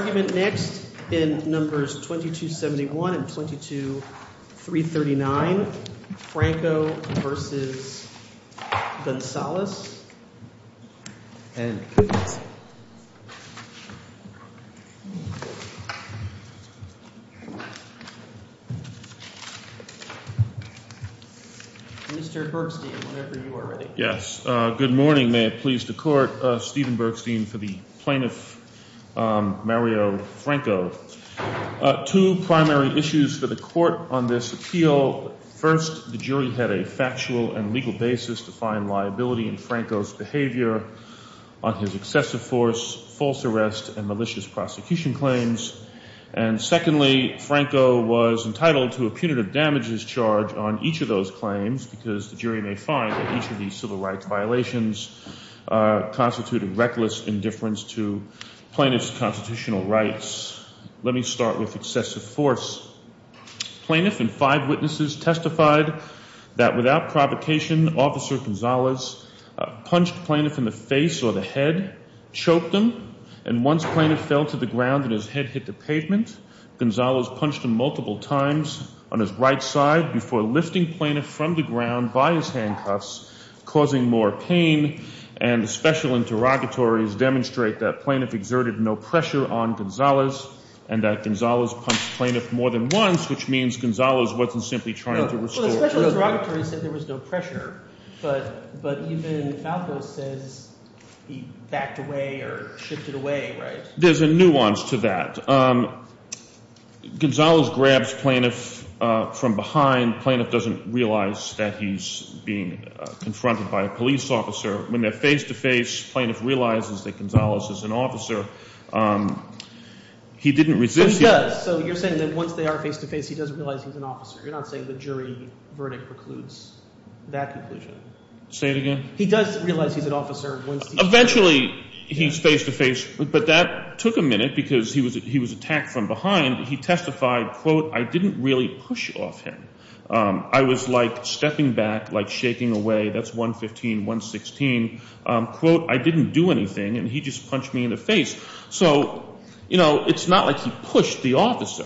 The argument next in numbers 2271 and 22339, Franco v. Gunsalus, and please. Mr. Bergstein, whenever you are ready. Yes, good morning. May it please the court, Stephen Bergstein for the plaintiff, Mario Franco. Two primary issues for the court on this appeal. First, the jury had a factual and legal basis to find liability in Franco's behavior on his excessive force, false arrest, and malicious prosecution claims. And secondly, Franco was entitled to a punitive damages charge on each of those claims because the jury may find that each of these civil rights violations constituted reckless indifference to plaintiff's constitutional rights. Let me start with excessive force. Plaintiff and five witnesses testified that without provocation, Officer Gunsalus punched plaintiff in the face or the head, choked him, and once plaintiff fell to the ground and his head hit the pavement, Gunsalus punched him multiple times on his right side before lifting plaintiff from the ground by his handcuffs, causing more pain. And special interrogatories demonstrate that plaintiff exerted no pressure on Gunsalus, and that Gunsalus punched plaintiff more than once, which means that Gunsalus wasn't simply trying to restore… Well, the special interrogatory said there was no pressure, but even Franco said he backed away or shifted away, right? There's a nuance to that. Gunsalus grabs plaintiff from behind. Plaintiff doesn't realize that he's being confronted by a police officer. When they're face-to-face, plaintiff realizes that Gunsalus is an officer. He didn't resist… He does. So you're saying that once they are face-to-face, he doesn't realize he's an officer. You're not saying the jury verdict precludes that decision. Say it again? He does realize he's an officer. Eventually he's face-to-face, but that took a minute because he was attacked from behind. He testified, quote, I didn't really push off him. I was like stepping back, like shaking away. That's 115, 116. Quote, I didn't do anything, and he just punched me in the face. So, you know, it's not like he pushed the officer.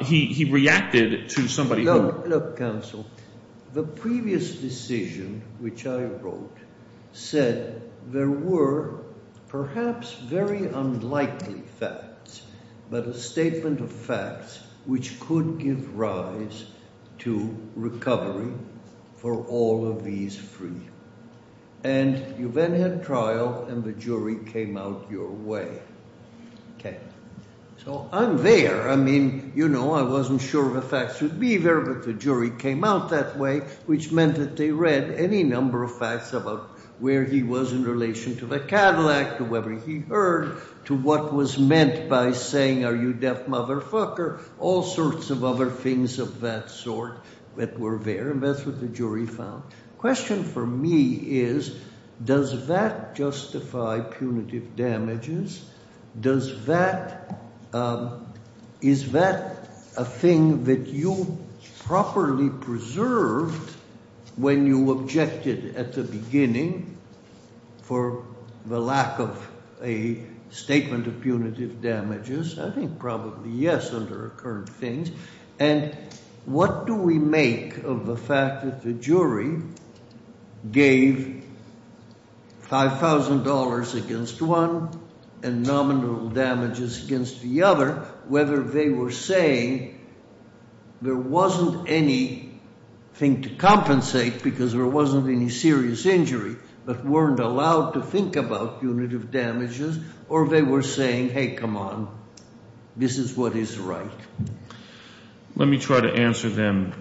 He reacted to somebody… The previous decision which I wrote said there were perhaps very unlikely facts, but a statement of facts which could give rise to recovery for all of these three. And you then had trial, and the jury came out your way. So, I'm there. I mean, you know, I wasn't sure the facts would be there, but the jury came out that way, which meant that they read any number of facts about where he was in relation to the Cadillac, to whether he heard, to what was meant by saying, are you deaf, motherfucker, all sorts of other things of that sort that were there, and that's what the jury found. The question for me is, does that justify punitive damages? Is that a thing that you properly preserve when you objected at the beginning for the lack of a statement of punitive damages? I think probably, yes, under current things. And what do we make of the fact that the jury gave $5,000 against one and nominal damages against the other, but whether they were saying there wasn't anything to compensate because there wasn't any serious injury, but weren't allowed to think about punitive damages, or they were saying, hey, come on, this is what is right. Let me try to answer them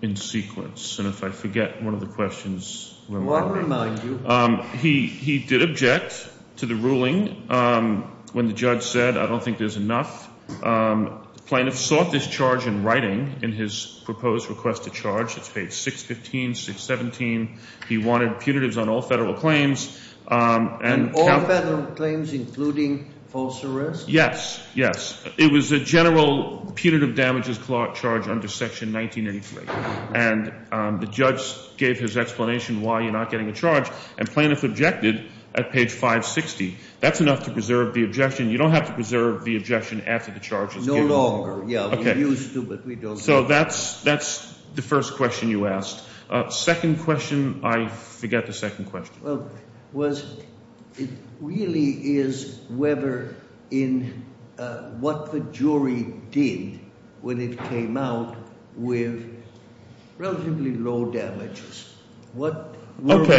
in sequence, and if I forget one of the questions. He did object to the ruling. When the judge said, I don't think there's enough, Planoff sought this charge in writing in his proposed request to charge at page 615, 617. He wanted punitives on all federal claims. And all federal claims, including false arrest? Yes, yes. It was the general punitive damages charge under section 1983. And the judge gave his explanation why you're not getting a charge, and Planoff objected at page 560. That's enough to preserve the objection. You don't have to preserve the objection after the charge. So that's the first question you asked. Second question, I forget the second question. Or were they saying there were no injuries, and therefore we can't give more than this? Apart from reading the two leads of what the jury was thinking, what about the district court's determination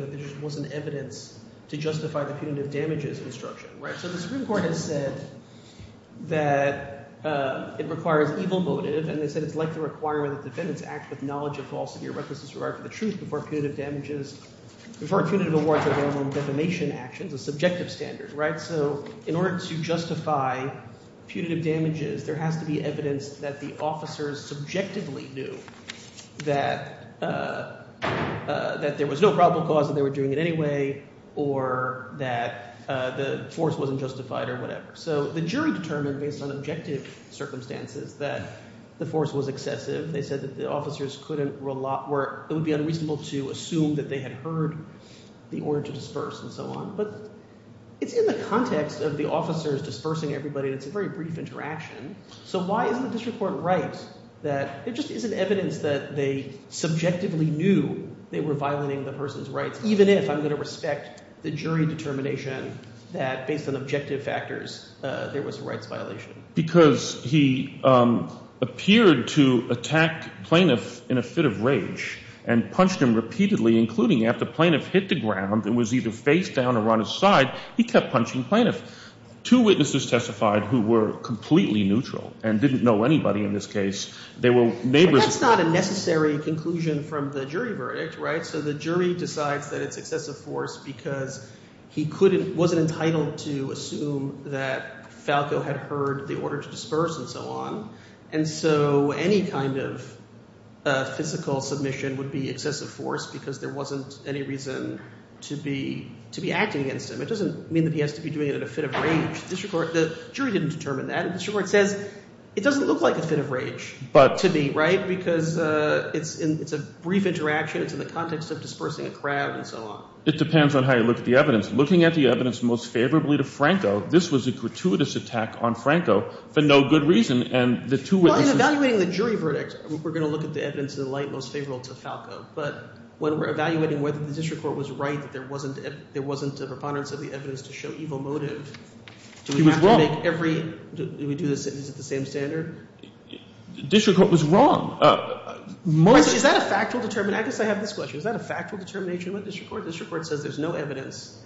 that there just wasn't evidence to justify the punitive damages instruction? So the district court has said that it requires legal motive, and they said it's likely to require a defendant to act with knowledge of false injuries. So in order to justify punitive damages, there has to be evidence that the officers subjectively knew that there was no probable cause that they were doing it anyway, or that the force wasn't justified or whatever. So the jury determined based on objective circumstances that the force was excessive. They said that the officers couldn't—it would be unreasonable to assume that they had heard the order to disperse and so on. But in the context of the officers dispersing everybody, it's a very brief interaction. So why did the district court write that there just isn't evidence that they subjectively knew they were violating the person's rights, even if I'm going to respect the jury determination that based on objective factors there was a rights violation? Because he appeared to attack plaintiff in a fit of rage and punched him repeatedly, including after the plaintiff hit the ground and was either face down or on his side, he kept punching the plaintiff. Two witnesses testified who were completely neutral and didn't know anybody in this case. That's not a necessary conclusion from the jury verdict, right? So the jury decides that it's excessive force because he wasn't entitled to assume that Falco had heard the order to disperse and so on. And so any kind of physical submission would be excessive force because there wasn't any reason to be acting against him. It doesn't mean that he has to be doing it in a fit of rage. The jury didn't determine that. The district court said it doesn't look like a fit of rage to me, right, because it's a brief interaction. It's in the context of dispersing a crowd and so on. It depends on how you look at the evidence. Looking at the evidence most favorably to Franco, this was a gratuitous attack on Franco for no good reason. Well, in evaluating the jury verdicts, we're going to look at the evidence in the light most favorable to Falco. But when we're evaluating whether the district court was right that there wasn't a preponderance of the evidence to show evil motive, do we do this at the same standard? The district court was wrong. Is that a factual determination? I guess I have this question. Is that a factual determination with the district court? The district court says there's no evidence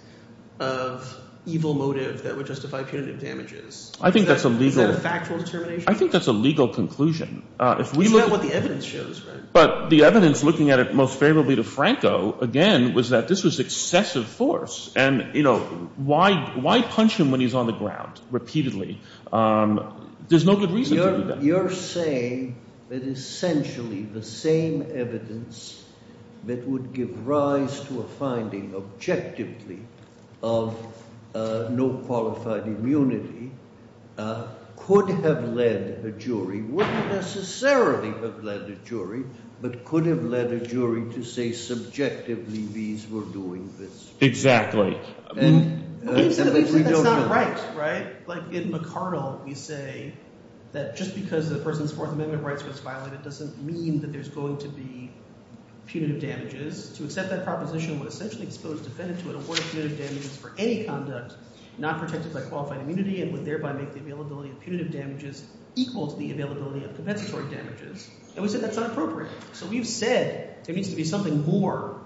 of evil motive that would justify punitive damages. I think that's illegal. Is that a factual determination? I think that's a legal conclusion. That's what the evidence shows. But the evidence looking at it most favorably to Franco, again, was that this was excessive force. And, you know, why punch him when he's on the ground repeatedly? There's no good reason to do that. You're saying that essentially the same evidence that would give rise to a finding objectively of no qualified immunity could have led the jury, wouldn't necessarily have led the jury, but could have led the jury to say subjectively these were doing this. Exactly. I think that's not right, right? Like in McArdle, we say that just because a person's Fourth Amendment rights were violated doesn't mean that there's going to be punitive damages. To accept that proposition would essentially expose defendants who would avoid punitive damages for any conduct not protected by qualified immunity and would thereby make the availability of punitive damages equal to the availability of compensatory damages. And we said that's not appropriate. So we've said there needs to be something more,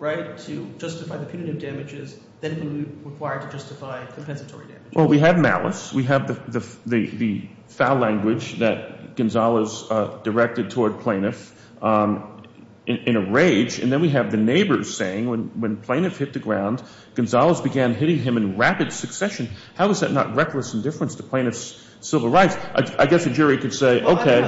right, to justify the punitive damages than we require to justify compensatory damages. Well, we have malice. We have the foul language that Gonzales directed toward Plaintiff in a rage. And then we have the neighbors saying when Plaintiff hit the ground, Gonzales began hitting him in rapid succession. How is that not reckless indifference to Plaintiff's civil rights? I guess the jury could say, okay—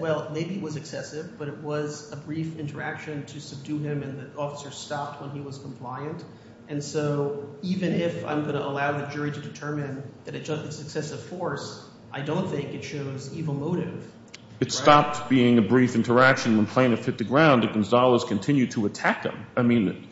Well, maybe it was excessive, but it was a brief interaction to subdue him, and the officer stopped when he was compliant. And so even if I'm going to allow the jury to determine that it was excessive force, I don't think it shows evil motive. It stopped being a brief interaction when Plaintiff hit the ground, but Gonzales continued to attack him.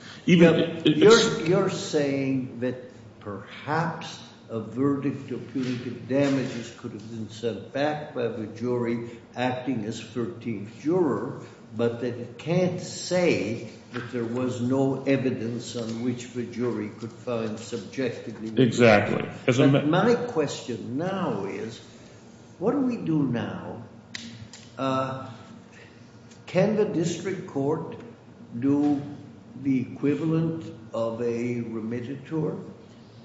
You're saying that perhaps a verdict of punitive damages could have been set back by the jury acting as 13th juror, but that it can't say that there was no evidence on which the jury could find subjectively— Exactly. My question now is, what do we do now? Can the district court do the equivalent of a remititure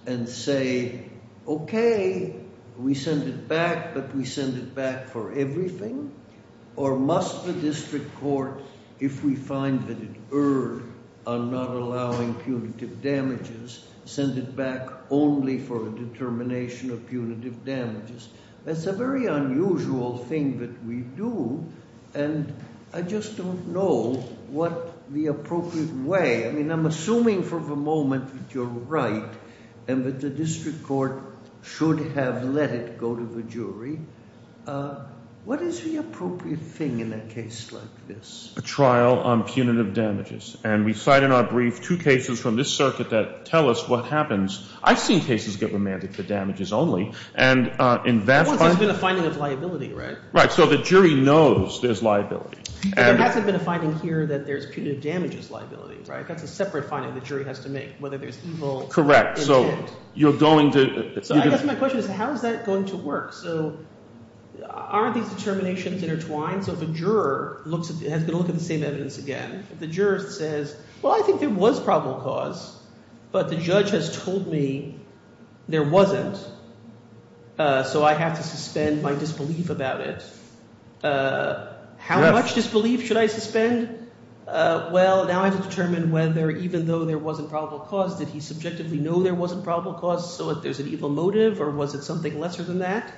and say, okay, we send it back, but we send it back for everything? Or must the district court, if we find that it erred on not allowing punitive damages, send it back only for a determination of punitive damages? That's a very unusual thing that we do, and I just don't know what the appropriate way— I mean, I'm assuming for the moment that you're right and that the district court should have let it go to the jury. What is the appropriate thing in a case like this? A trial on punitive damages, and we cite in our brief two cases from this circuit that tell us what happens. I've seen cases get remanded for damages only, and in that— Well, there's been a finding of liability, right? Right, so the jury knows there's liability. There hasn't been a finding here that there's punitive damages liability, right? That's a separate finding the jury has to make, whether there's evil— Correct, so you're going to— So I guess my question is, how is that going to work? So aren't these determinations intertwined? So the juror has to look at the same evidence again. The juror says, well, I think there was probable cause, but the judge has told me there wasn't, so I have to suspend my disbelief about it. How much disbelief should I suspend? Well, now I've determined whether, even though there wasn't probable cause, did he subjectively know there wasn't probable cause? So if there's an evil motive, or was it something lesser than that?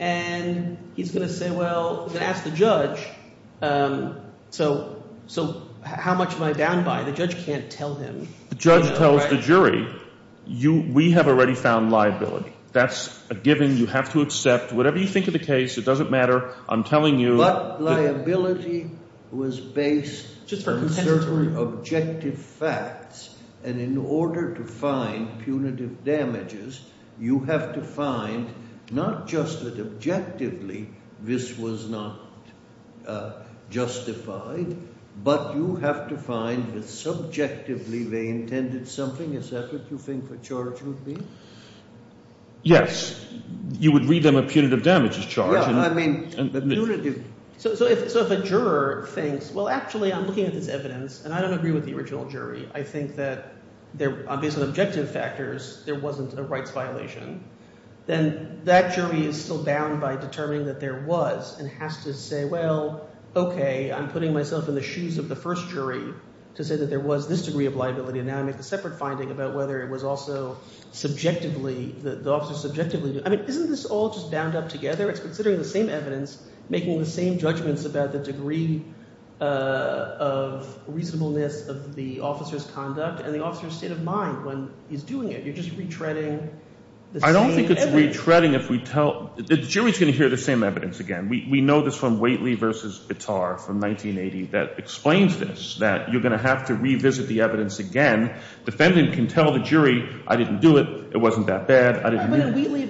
And he's going to say, well, he's going to ask the judge, so how much am I bound by? The judge can't tell him. The judge tells the jury, we have already found liability. That's a given you have to accept. Whatever you think of the case, it doesn't matter. But liability was based on certain objective facts, and in order to find punitive damages, you have to find not just that objectively this was not justified, but you have to find that subjectively they intended something. Is that what you think the charge would be? Yes. You would read them a punitive damages charge. So if a juror thinks, well, actually, I'm looking at this evidence, and I don't agree with the original jury. I think that there were obvious objective factors. There wasn't a rights violation. Then that jury is still bound by determining that there was, and has to say, well, OK, I'm putting myself in the shoes of the first jury to say that there was this degree of liability, and now I make a separate finding about whether it was also subjectively. I mean, isn't this all just bound up together? It's considering the same evidence, making the same judgments about the degree of reasonableness of the officer's conduct and the officer's state of mind when he's doing it. You're just retreading the same evidence. I don't think it's retreading if we tell—the jury's going to hear the same evidence again. We know this from Waitley v. Bitar from 1980 that explains this, that you're going to have to revisit the evidence again. The defendant can tell the jury, I didn't do it. It wasn't that bad. I didn't mean it. But in Waitley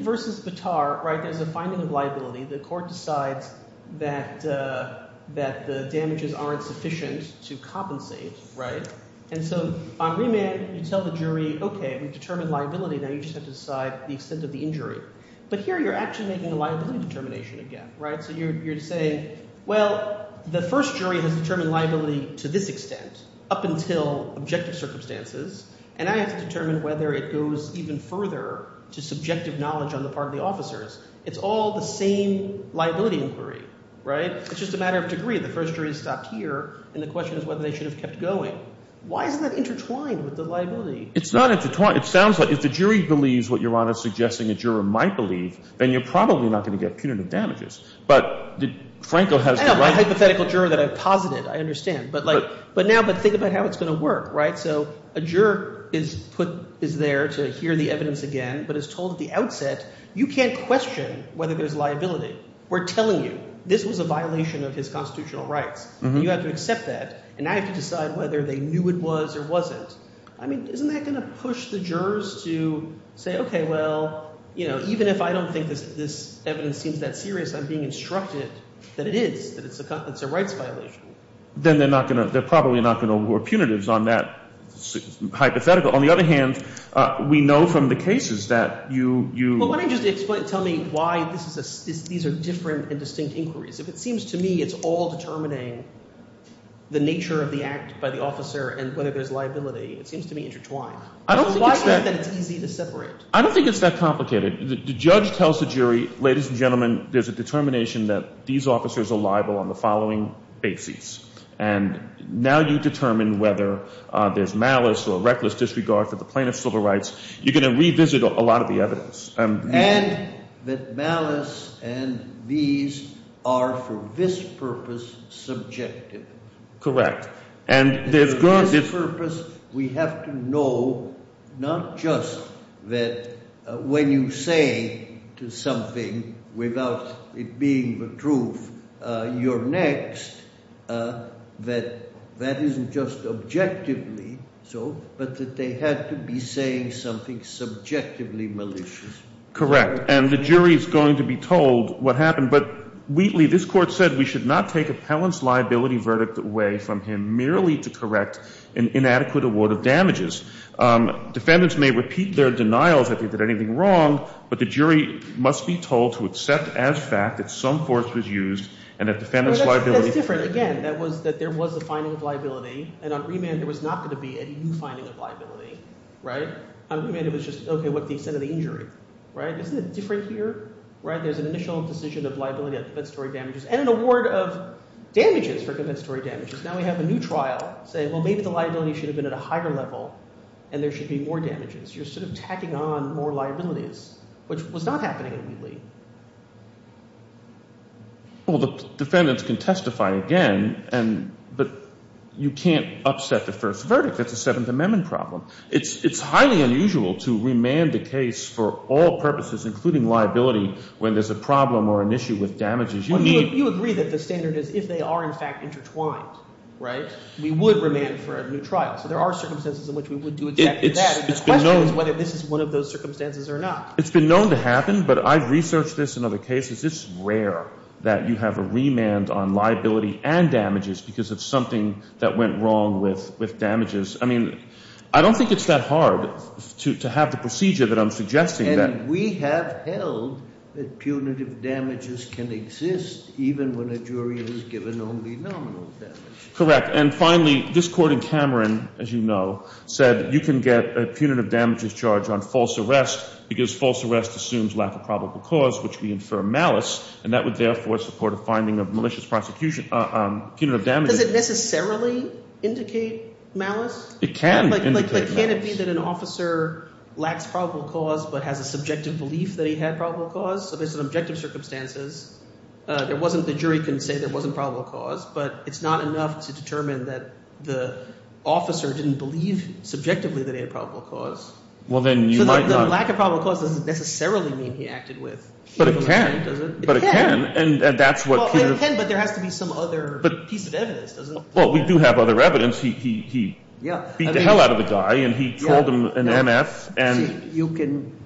v. Bitar, in the finding of liability, the court decides that the damages aren't sufficient to compensate. And so on remand, you tell the jury, OK, we've determined liability. Now, you set aside the extent of the injury. But here, you're actually making a liability determination again. So you're saying, well, the first jury has determined liability to this extent up until objective circumstances, and I have to determine whether it goes even further to subjective knowledge on the part of the officers. It's all the same liability inquiry, right? It's just a matter of degree. The first jury's got here, and the question is whether they should have kept going. Why is that intertwined with the liability? It's not intertwined. It sounds like if the jury believes what Your Honor is suggesting a juror might believe, then you're probably not going to get punitive damages. But did Franco have— I have a hypothetical juror that I've posited. I understand. But now think about how it's going to work, right? So a juror is there to hear the evidence again, but is told at the outset, you can't question whether there's liability. We're telling you this was a violation of his constitutional rights, and you have to accept that. And now you have to decide whether they knew it was or wasn't. I mean, isn't that going to push the jurors to say, okay, well, even if I don't think this evidence seems that serious, I'm being instructed that it is, that it's a constitutional rights violation. Then they're probably not going to award punitives on that hypothetical. On the other hand, we know from the cases that you— Well, why don't you just tell me why these are different and distinct inquiries? It seems to me it's all determining the nature of the act by the officer and whether there's liability. It seems to me intertwined. I don't think it's that complicated. The judge tells the jury, ladies and gentlemen, there's a determination that these officers are liable on the following basis. And now you determine whether there's malice or reckless disregard for the plaintiff's civil rights. You're going to revisit a lot of the evidence. And that malice and these are, for this purpose, subjective. Correct. For this purpose, we have to know not just that when you say something without it being the truth, you're next, that that isn't just objectively so, but that they have to be saying something subjectively malicious. Correct. And the jury is going to be told what happened. But, Wheatley, this court said we should not take a felon's liability verdict away from him merely to correct an inadequate award of damages. Defendants may repeat their denials if they did anything wrong, but the jury must be told to accept as fact that some force was used and that defendants' liability— Again, that there was a finding of liability, and on remand there was not going to be any new finding of liability. On remand it was just, okay, what's the extent of the injury? Isn't it different here? There's an initial imposition of liability on compensatory damages and an award of damages for compensatory damages. Now we have a new trial saying, well, maybe the liability should have been at a higher level and there should be more damages. You're sort of tacking on more liabilities, which was not happening at Wheatley. Well, the defendants can testify again, and you can't upset the first verdict. That's a Seventh Amendment problem. It's highly unusual to remand a case for all purposes, including liability, when there's a problem or an issue with damages. You agree that the standard is if they are, in fact, intertwined, right? We would remand for a new trial. So there are circumstances in which we would do exactly that. The question is whether this is one of those circumstances or not. It's been known to happen, but I've researched this in other cases. It's rare that you have a remand on liability and damages because of something that went wrong with damages. I mean, I don't think it's that hard to have the procedure that I'm suggesting. And we have held that punitive damages can exist even when a jury is given only nominal damages. Correct. And finally, this court in Cameron, as you know, said you can get a punitive damages charge on false arrest because false arrest assumes lack of probable cause, which we infer malice, and that would therefore support a finding of malicious punitive damages. Does it necessarily indicate malice? It can indicate malice. But can it be that an officer lacks probable cause but has a subjective belief that he has probable cause? So there's an objective circumstance. The jury can say there wasn't probable cause, but it's not enough to determine that the officer didn't believe subjectively that he had probable cause. Well, then you might not. The lack of probable cause doesn't necessarily mean he acted with. But it can. It can. It can, but there has to be some other piece of evidence. Well, we do have other evidence. He beat the hell out of a guy, and he called him an M.S. And you can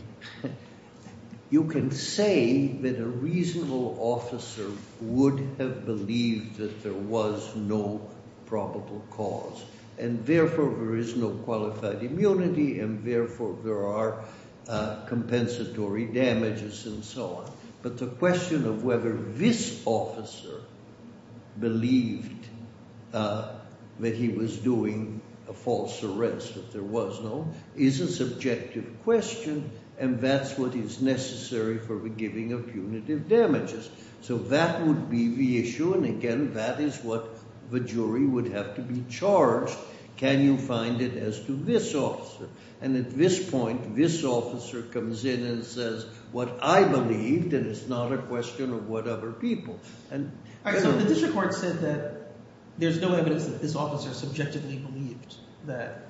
say that a reasonable officer would have believed that there was no probable cause, and therefore there is no qualified immunity, and therefore there are compensatory damages and so on. But the question of whether this officer believed that he was doing a false arrest, if there was no, is a subjective question, and that's what is necessary for the giving of punitive damages. So that would be the issue, and again, that is what the jury would have to be charged. Can you find it as to this officer? And at this point, this officer comes in and says, what I believe, and it's not a question of what other people. This report says that there's no evidence that this officer subjectively believes that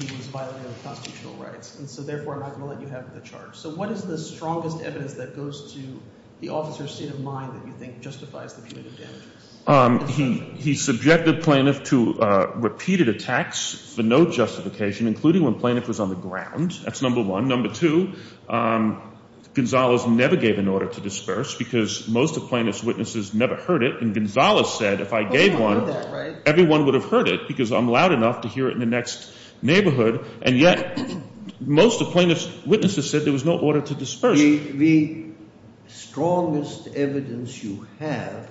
he was violating constitutional rights, and so therefore I'm not going to let you have the charge. So what is the strongest evidence that goes to the officer's state of mind that you think justifies punitive damages? He subjected Planoff to repeated attacks for no justification, including when Planoff was on the ground. That's number one. Number two, Gonzales never gave an order to disperse because most of Planoff's witnesses never heard it, and Gonzales said if I gave one, everyone would have heard it because I'm loud enough to hear it in the next neighborhood, and yet most of Planoff's witnesses said there was no order to disperse. The strongest evidence you have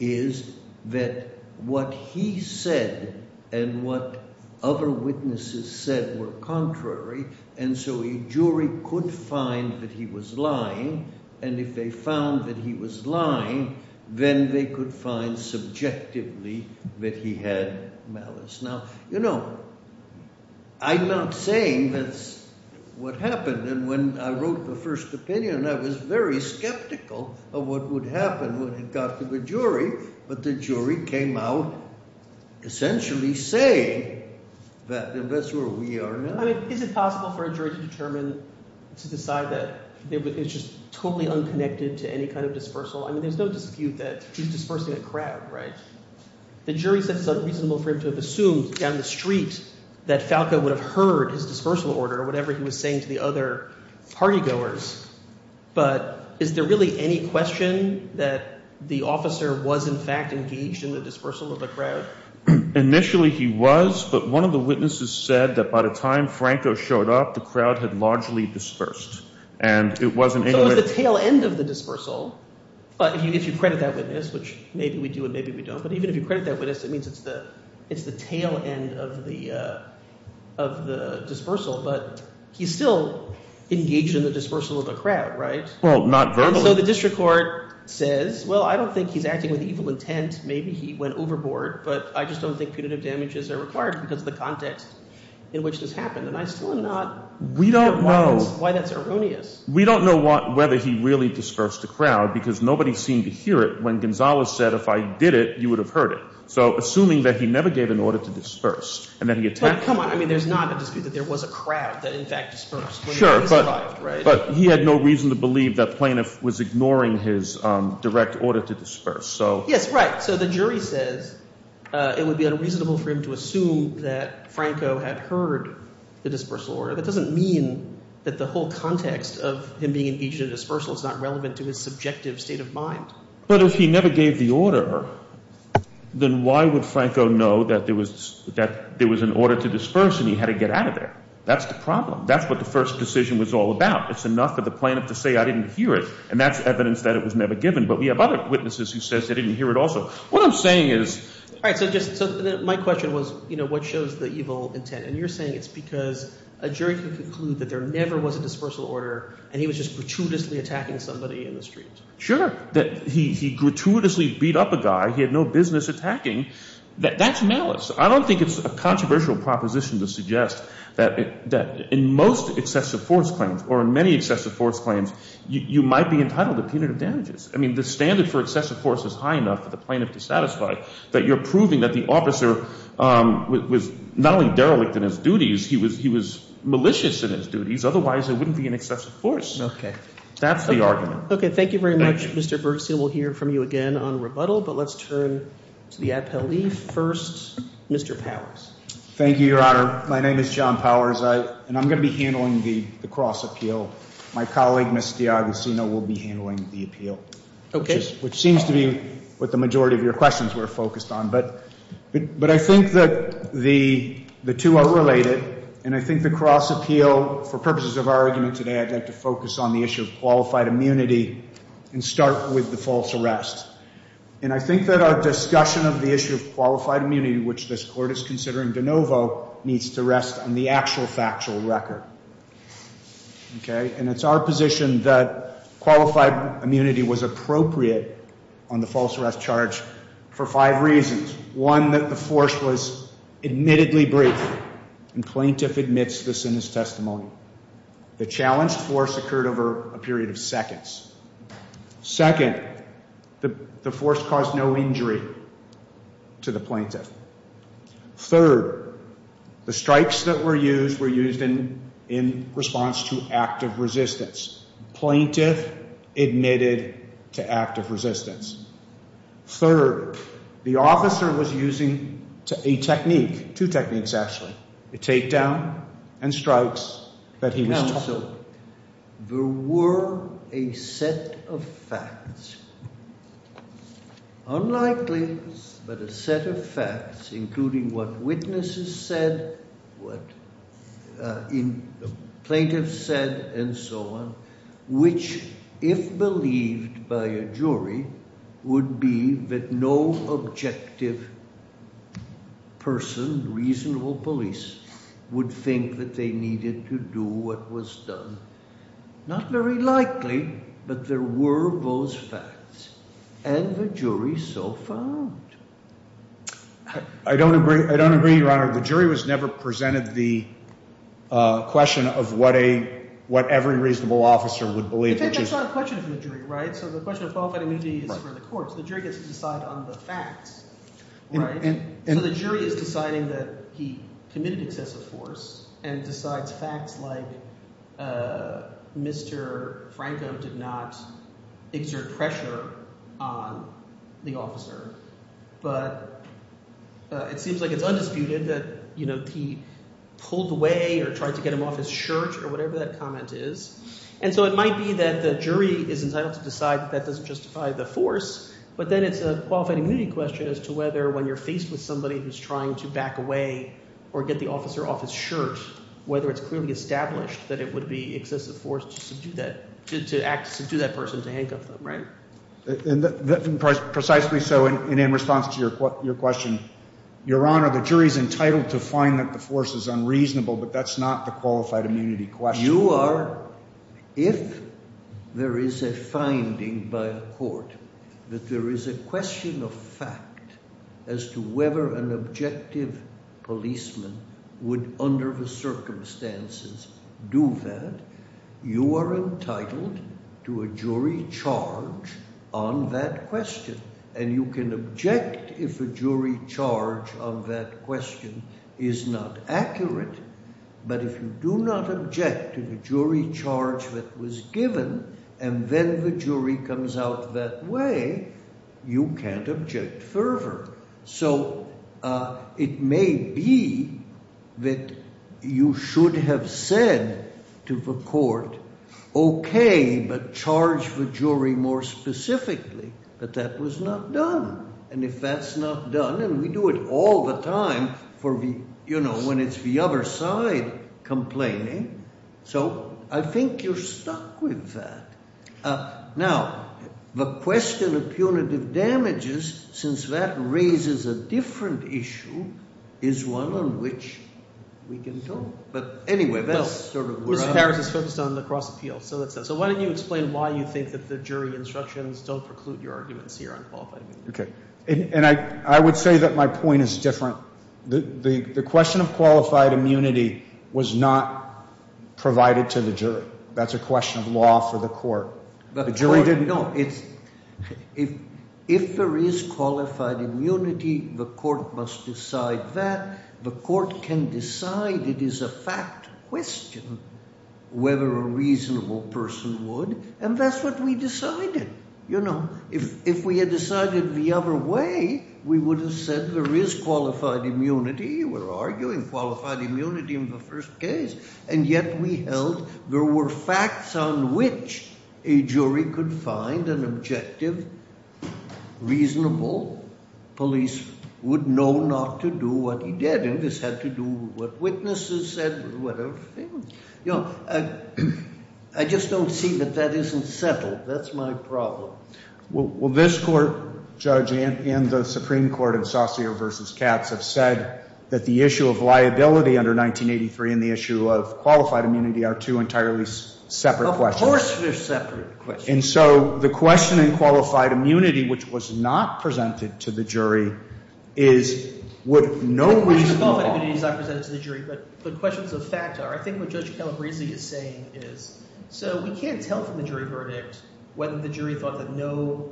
is that what he said and what other witnesses said were contrary, and so a jury could find that he was lying, and if they found that he was lying, then they could find subjectively that he had malice. Now, you know, I'm not saying that's what happened, and when I wrote the first opinion, I was very skeptical of what would happen when it got to the jury, but the jury came out essentially saying that, and that's where we are now. Is it possible for a jury to determine, to decide that it's just totally unconnected to any kind of dispersal? I mean, there's no dispute that he's dispersing a crowd, right? The jury said something similar to have assumed down the street that Falco would have heard his dispersal order, whatever he was saying to the other partygoers, but is there really any question that the officer was in fact engaged in the dispersal of the crowd? Initially he was, but one of the witnesses said that by the time Franco showed up, the crowd had largely dispersed. It was the tail end of the dispersal, but if you credit that witness, which maybe we do and maybe we don't, but even if you credit that witness, it means it's the tail end of the dispersal, but he still engaged in the dispersal of the crowd, right? Although the district court says, well, I don't think he's acting with evil intent. Maybe he went overboard, but I just don't think punitive damages are required because of the context in which this happened, and I'm still not sure why that's erroneous. We don't know whether he really dispersed the crowd because nobody seemed to hear it when Gonzales said, if I did it, you would have heard it. So assuming that he never gave an order to disperse, and then he attacked… But come on, I mean, there's no dispute that there was a crowd that in fact dispersed. Sure, but he had no reason to believe that Planoff was ignoring his direct order to disperse. Yes, right. So the jury said it would be unreasonable for him to assume that Franco had heard the dispersal order. That doesn't mean that the whole context of him being engaged in a dispersal is not relevant to his subjective state of mind. But if he never gave the order, then why would Franco know that there was an order to disperse and he had to get out of there? That's the problem. That's what the first decision was all about. It's enough for the plaintiff to say, I didn't hear it, and that's evidence that it was never given. But we have other witnesses who say they didn't hear it also. What I'm saying is… All right, so my question was what shows the evil intent? And you're saying it's because a jury can conclude that there never was a dispersal order, and he was just gratuitously attacking somebody in the street. Sure, that he gratuitously beat up a guy. He had no business attacking. That's malice. I don't think it's a controversial proposition to suggest that in most excessive force claims, or in many excessive force claims, you might be entitled to punitive damages. I mean, the standard for excessive force is high enough for the plaintiff to satisfy, but you're proving that the officer was not only derelict in his duties, he was malicious in his duties. Otherwise, there wouldn't be an excessive force. That's the argument. Okay, thank you very much, Mr. Bergstein. We'll hear from you again on rebuttal, but let's turn to the attorneys. First, Mr. Powers. Thank you, Your Honor. My name is John Powers, and I'm going to be handling the cross-appeal. My colleague, Ms. D'Agostino, will be handling the appeal. Okay. Which seems to be what the majority of your questions were focused on. But I think that the two are related, and I think the cross-appeal, for purposes of our argument today, I'd like to focus on the issue of qualified immunity and start with the false arrest. And I think that our discussion of the issue of qualified immunity, which this Court is considering de novo, needs to rest on the actual factual record. Okay? And it's our position that qualified immunity was appropriate on the false arrest charge for five reasons. One, that the force was admittedly brief, and the plaintiff admits this in his testimony. The challenged force occurred over a period of seconds. Second, the force caused no injury to the plaintiff. Third, the strikes that were used were used in response to active resistance. Plaintiff admitted to active resistance. Third, the officer was using a technique, two techniques actually, a takedown and strikes that he missed. Counsel, there were a set of facts, unlikely but a set of facts, including what witnesses said, what the plaintiff said, and so on, which, if believed by a jury, would be that no objective person, reasonable police, would think that they needed to do what was done. Not very likely, but there were those facts, and the jury so found. I don't agree, Your Honor. The jury has never presented the question of what every reasonable officer would believe. It's actually a question for the jury, right? So the question of qualified immunity is for the courts. The jury gets to decide on the facts, right? And the jury is deciding that he committed excessive force and decides facts like Mr. Franklin did not exert pressure on the officer, but it seems like it's undisputed that he pulled away or tried to get him off his shirt or whatever that comment is. And so it might be that the jury is entitled to decide that that doesn't justify the force, but then it's a qualified immunity question as to whether when you're faced with somebody who's trying to back away or get the officer off his shirt, whether it's clearly established that it would be excessive force to do that, to do that person to handcuff them, right? Precisely so, and in response to your question, Your Honor, the jury's entitled to find that the force is unreasonable, but that's not a qualified immunity question. If there is a finding by a court that there is a question of fact as to whether an objective policeman would, under the circumstances, do that, you are entitled to a jury charge on that question. And you can object if the jury charge of that question is not accurate, but if you do not object to the jury charge that was given and then the jury comes out that way, you can't object further. So it may be that you should have said to the court, okay, but charge the jury more specifically that that was not done, and if that's not done, and we do it all the time for the, you know, when it's the other side complaining, so I think you're stuck with that. Now, the question of punitive damages, since that raises a different issue, is one on which we can talk, but anyway, that's sort of where I'm at. Well, this character sits on the cross-appeal, so why don't you explain why you think that the jury instructions don't preclude your arguments here on qualified immunity? If there is qualified immunity, the court must decide that. The court can decide it is a fact question whether a reasonable person would, and that's what we decided. You know, if we had decided the other way, we would have said there is qualified immunity, we're arguing qualified immunity in the first case, and yet we held there were facts on which a jury could find an objective, reasonable, police would know not to do what he did. You know, I just don't see that that isn't settled. That's my problem. Well, this court, Judge, and the Supreme Court in Saussure v. Katz have said that the issue of liability under 1983 and the issue of qualified immunity are two entirely separate questions. Of course they're separate questions. And so the question in qualified immunity, which was not presented to the jury, is would no reasonable— Well, it's not presented to the jury, but the question is those facts are. I think what Judge Kelley is saying is, so we can't tell from the jury verdict whether the jury thought that no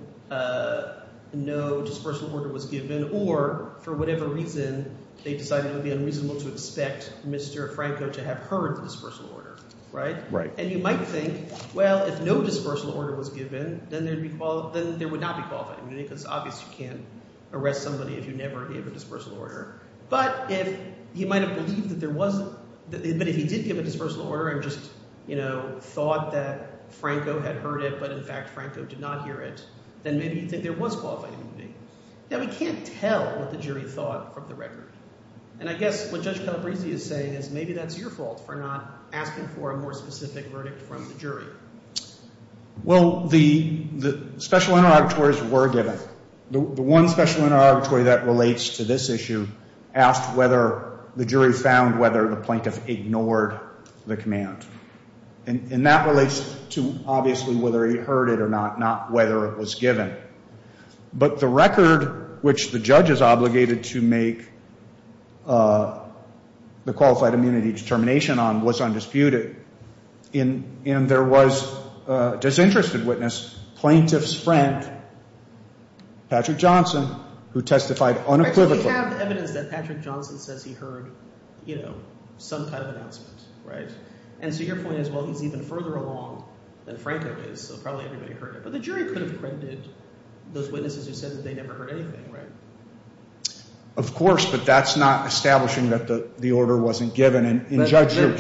dispersal order was given or, for whatever reason, they decided it would be unreasonable to accept Mr. Franco to have heard the dispersal order, right? Right. And you might think, well, if no dispersal order was given, then they would not be qualified. I mean, it's obvious you can't arrest somebody who never gave a dispersal order. But if he might have believed that there was—that he did give a dispersal order and just, you know, thought that Franco had heard it but, in fact, Franco did not hear it, then maybe there was qualified immunity. Now, we can't tell what the jury thought from the record. And I guess what Judge Calabresi is saying is maybe that's your fault for not asking for a more specific verdict from the jury. Well, the special interrogatories were given. The one special interrogatory that relates to this issue asked whether the jury found whether the plaintiff ignored the command. And that relates to, obviously, whether he heard it or not, not whether it was given. But the record, which the judge is obligated to make the qualified immunity determination on, was undisputed. And there was a disinterested witness, plaintiff's friend, Patrick Johnson, who testified unequivocally. We have the evidence that Patrick Johnson says he heard, you know, some type of absence, right? And so your point is, well, he's even further along than Franco is, so probably he heard it. But the jury could have said that they never heard anything, right? Of course, but that's not establishing that the order wasn't given. But the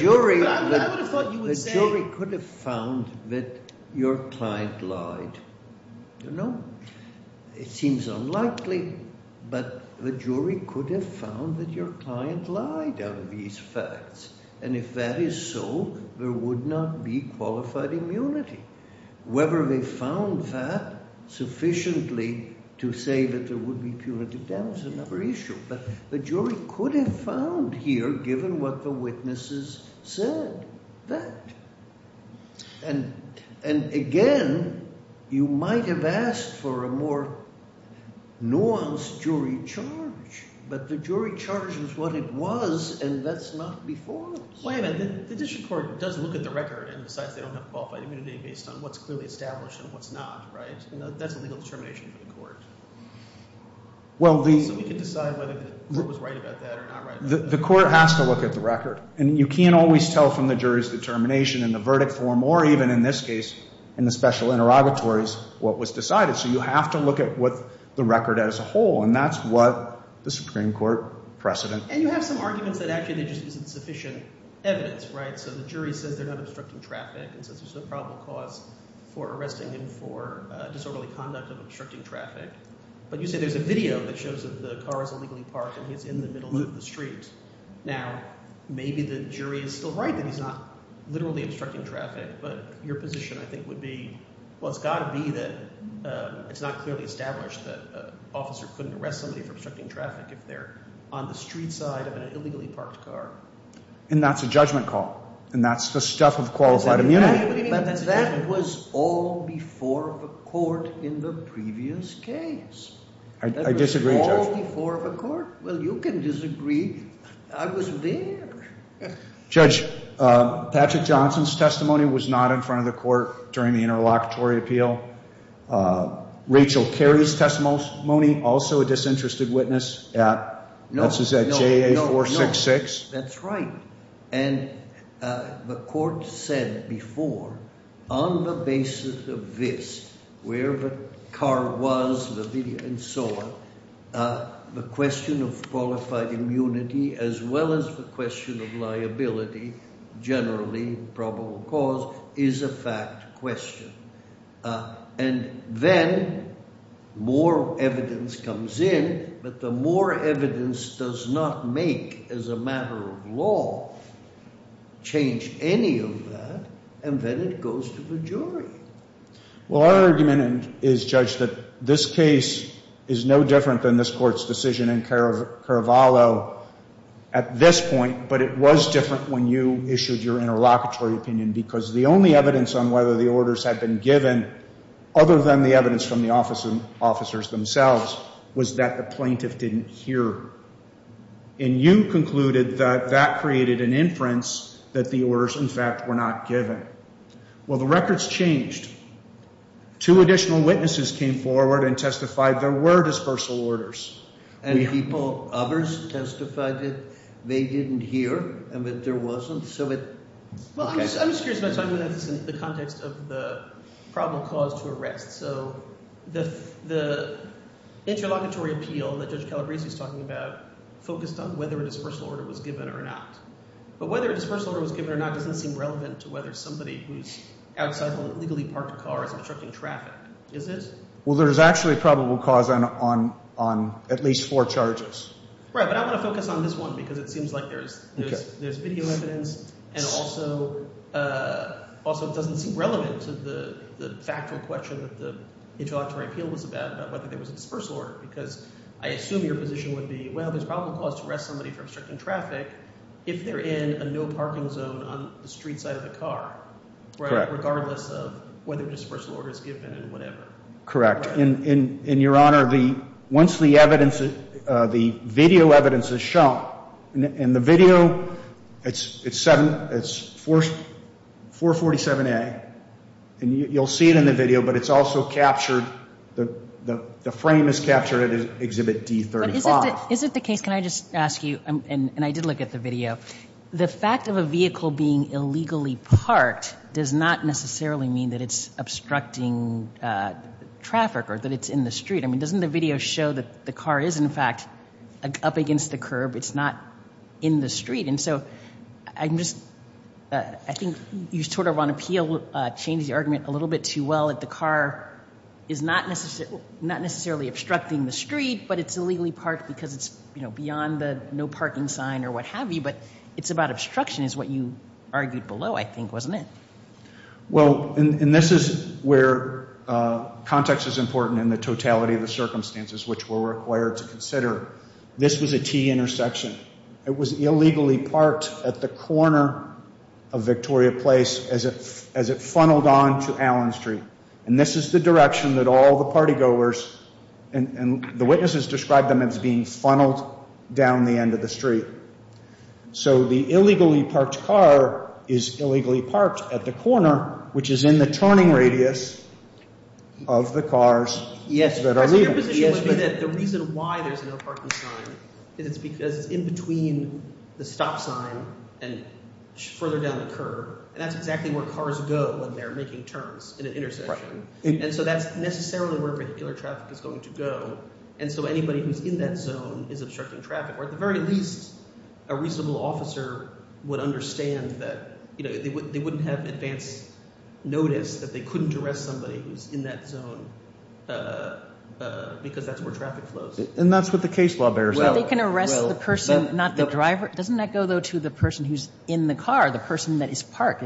jury could have found that your client lied. You know, it seems unlikely, but the jury could have found that your client lied out of these facts. And if that is so, there would not be qualified immunity. Whether they found that sufficiently to say that there would be 200 doubts is another issue. But the jury could have found here, given what the witnesses said, that. And again, you might have asked for a more nuanced jury charge. But the jury charge was what it was, and that's not before us. Explain that. The district court doesn't look at the record and decide they don't have qualified immunity based on what's clearly established and what's not, right? That's a legal determination of the court. So we can decide whether it was right about that or not, right? The court has to look at the record. And you can't always tell from the jury's determination in the verdict form, or even in this case, in the special interrogatory, what was decided. So you have to look at the record as a whole, and that's what the Supreme Court precedent. And you have some arguments that actually just isn't sufficient evidence, right? So the jury says they're not obstructing traffic, and so this is a probable cause for arresting him for disorderly conduct or obstructing traffic. But you said there's a video that shows that the car is illegally parked, and it's in the middle of the streets. Now, maybe the jury is still right that he's not literally obstructing traffic, but your position, I think, would be, well, it's got to be that it's not clearly established that officers couldn't arrest somebody for obstructing traffic if they're on the street side of an illegally parked car. And that's a judgment call, and that's the stuff of qualified immunity. But that was all before the court in the previous case. I disagree, Judge. That was all before the court. Well, you can disagree. I was there. Judge, Patrick Johnson's testimony was not in front of the court during the interlocutory appeal. Rachel Carey's testimony, also a disinterested witness at J8466. That's right. And the court said before, on the basis of this, where the car was, the video, and so on, the question of qualified immunity as well as the question of liability, generally probable cause, is a fact question. And then more evidence comes in, but the more evidence does not make, as a matter of law, change any of that, and then it goes to the jury. Well, our argument is, Judge, that this case is no different than this court's decision in Carvalho at this point, but it was different when you issued your interlocutory opinion, because the only evidence on whether the orders had been given, other than the evidence from the officers themselves, was that the plaintiff didn't hear. And you concluded that that created an inference that the orders, in fact, were not given. Well, the records changed. Two additional witnesses came forward and testified there were dispersal orders. And people, others, testified that they didn't hear and that there wasn't. Well, I'm just curious, in the context of the probable cause to arrest, so the interlocutory appeal that Judge Calabrese is talking about focused on whether a dispersal order was given or not. But whether a dispersal order was given or not doesn't seem relevant to whether somebody who's out on a legally parked car is obstructing traffic, is it? Well, there's actually a probable cause on at least four charges. Right, but I'm going to focus on this one, because it seems like there's speculation, and also it doesn't seem relevant to the factual question that the interlocutory appeal was about whether there was a dispersal order, because I assume your position would be, well, there's probable cause to arrest somebody for obstructing traffic if they're in a no-parking zone on the street side of the car, regardless of whether a dispersal order was given or not. Correct. And, Your Honor, once the video evidence is shown, and the video, it's 447A, and you'll see it in the video, but it's also captured, the frame is captured in Exhibit D35. Isn't the case, can I just ask you, and I did look at the video, the fact of a vehicle being illegally parked does not necessarily mean that it's obstructing traffic or that it's in the street. I mean, doesn't the video show that the car is, in fact, up against the curb, it's not in the street, and so I think you sort of want to change the argument a little bit too well that the car is not necessarily obstructing the street, but it's illegally parked because it's beyond the no-parking sign or what have you, but it's about obstruction is what you argued below, I think, wasn't it? Well, and this is where context is important in the totality of the circumstances which we're required to consider. This was a key intersection. It was illegally parked at the corner of Victoria Place as it funneled on to Allen Street. And this is the direction that all the party goers, and the witnesses described them as being funneled down the end of the street. So the illegally parked car is illegally parked at the corner, which is in the turning radius of the cars that are leaving. The reason why there's no parking sign is because it's in between the stop sign and further down the curb, and that's exactly where cars go when they're making turns in an intersection. And so that's necessarily where regular traffic is going to go, and so anybody who's in that zone is obstructing traffic. Or at the very least, a reasonable officer would understand that they wouldn't have advance notice that they couldn't arrest somebody who's in that zone because that's where traffic flows. And that's what the case law bears out. Well, they can arrest the person, not the driver. Doesn't that go, though, to the person who's in the car, the person that is parked?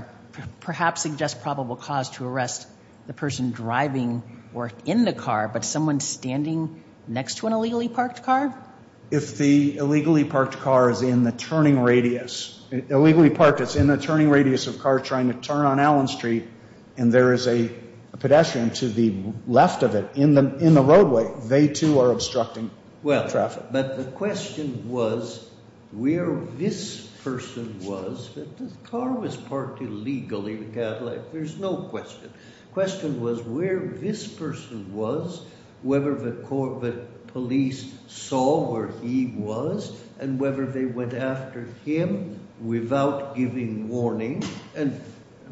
Perhaps suggest probable cause to arrest the person driving or in the car, but someone standing next to an illegally parked car? If the illegally parked car is in the turning radius, illegally parked, it's in the turning radius of a car trying to turn on Allen Street, and there is a pedestrian to the left of it in the roadway, they, too, are obstructing traffic. But the question was where this person was, the car was parked illegally, there's no question. The question was where this person was, whether the police saw where he was, and whether they went after him without giving warning. And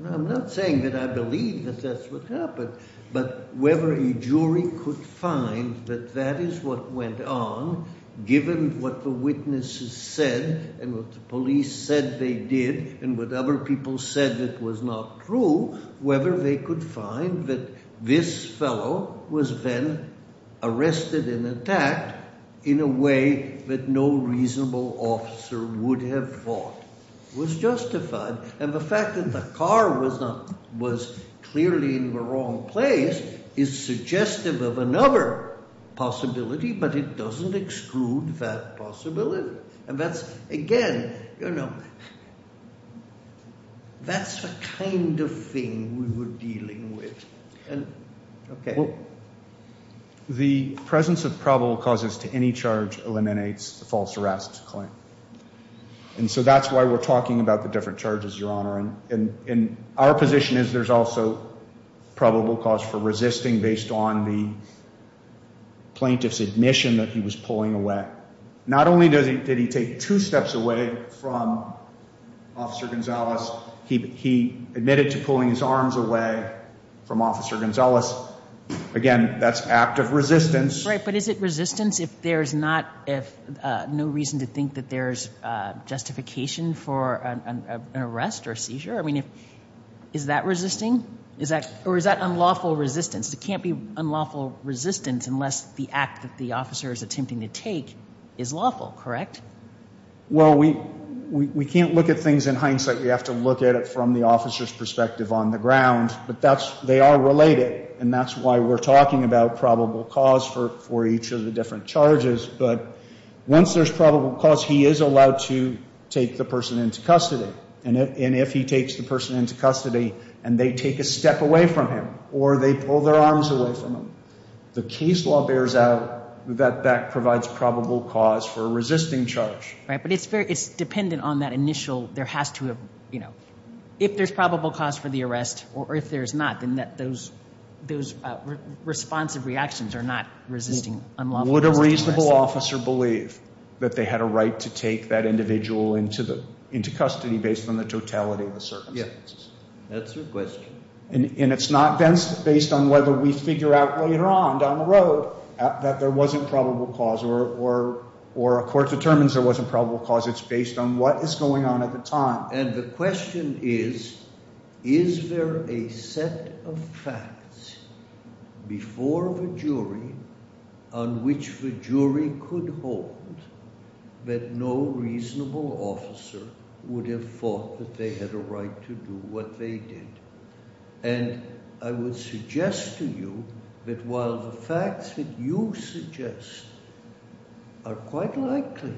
I'm not saying that I believe that that's what happened, but whether a jury could find that that is what went on, given what the witnesses said and what the police said they did and what other people said that was not true, whether they could find that this fellow was then arrested and attacked in a way that no reasonable officer would have thought was justified. And the fact that the car was clearly in the wrong place is suggestive of another possibility, but it doesn't exclude that possibility. And that's, again, you know, that's the kind of thing we were dealing with. The presence of probable causes to any charge eliminates the false arrest claim. And so that's why we're talking about the different charges, Your Honor. And our position is there's also probable cause for resisting based on the plaintiff's admission that he was pulling away. Not only did he take two steps away from Officer Gonzales, he admitted to pulling his arms away from Officer Gonzales. Again, that's an act of resistance. Right, but is it resistance if there's no reason to think that there's justification for an arrest or seizure? I mean, is that resisting? Or is that unlawful resistance? It can't be unlawful resistance unless the act that the officer is attempting to take is lawful, correct? Well, we can't look at things in hindsight. We have to look at it from the officer's perspective on the ground. But they are related, and that's why we're talking about probable cause for each of the different charges. But once there's probable cause, he is allowed to take the person into custody. And if he takes the person into custody, and they take a step away from him, or they pull their arms away from him, the case law bears out that that provides probable cause for resisting charge. Right, but it's dependent on that initial, there has to have, you know, if there's probable cause for the arrest, or if there's not, then those responsive reactions are not resisting unlawful charges. Would a reasonable officer believe that they had a right to take that individual into custody based on the totality of the circumstances? Yes, that's your question. And it's not based on whether we figure out later on down the road that there wasn't probable cause, or a court determines there wasn't probable cause, it's based on what is going on at the time. And the question is, is there a set of facts before the jury on which the jury could hold that no reasonable officer would have thought that they had a right to do what they did? And I would suggest to you that while the facts that you suggest are quite likely,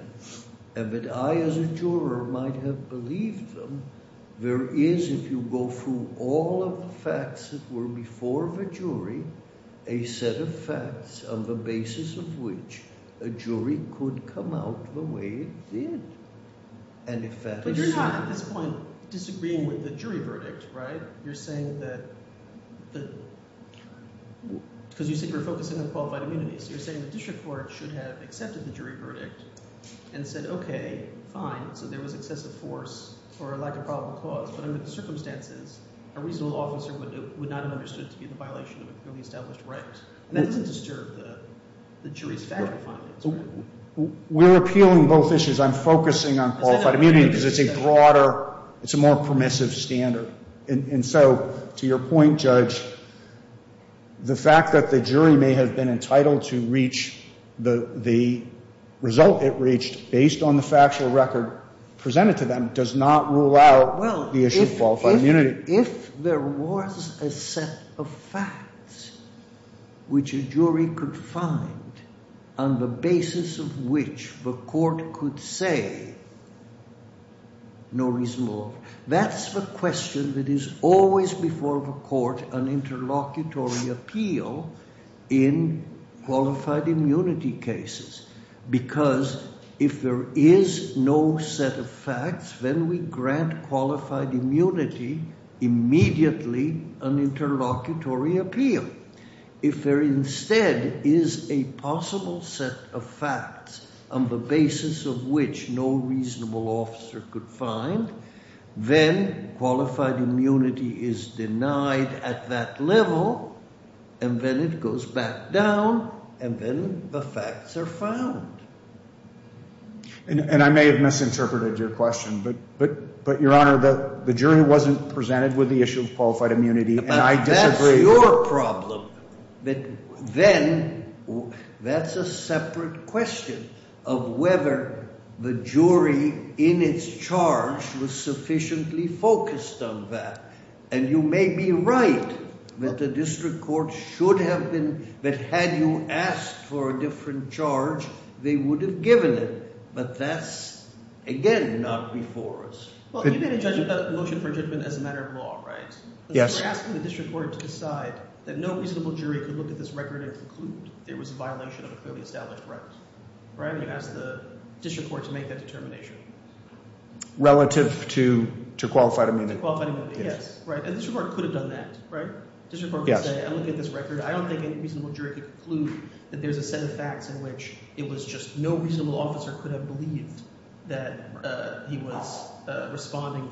and that I as a juror might have believed them, there is, if you go through all the facts that were before the jury, a set of facts on the basis of which a jury could come out the way it did. But you're talking about disagreeing with the jury verdicts, right? You're saying that, because you think we're focusing on qualified immunities, you're saying the district court should have accepted the jury verdict and said, okay, fine, so there was excessive force or a lack of probable cause, but under the circumstances, a reasonable officer would not have understood to be in violation of the established rights. And that doesn't disturb the jury's fact finding. We're appealing both issues. Because I'm focusing on qualified immunity because it's a broader, it's a more permissive standard. And so, to your point, Judge, the fact that the jury may have been entitled to reach the result it reached based on the factual record presented to them does not rule out the issue of qualified immunity. If there was a set of facts which a jury could find on the basis of which the court could say, no reason more, that's the question that is always before the court, an interlocutory appeal in qualified immunity cases. Because if there is no set of facts, then we grant qualified immunity immediately an interlocutory appeal. If there instead is a possible set of facts on the basis of which no reasonable officer could find, then qualified immunity is denied at that level, and then it goes back down, and then the facts are found. And I may have misinterpreted your question, but, Your Honor, the jury wasn't presented with the issue of qualified immunity, and I disagree. But then, that's a separate question of whether the jury in its charge was sufficiently focused on that. And you may be right that the district court should have been, that had you asked for a different charge, they would have given it. But that's, again, not before us. Well, you say they judge a motion for judgment as a matter of law, right? Yes. But you're asking the district court to decide that no reasonable jury could look at this record and conclude it was a violation of a clearly established preference. Right? You're asking the district court to make that determination. Relative to qualified immunity. Qualified immunity, yes. And the district court could have done that, right? District court could say, I'm looking at this record, I don't think a reasonable jury could conclude that there's a set of facts in which it was just no reasonable officer could have believed that he was responding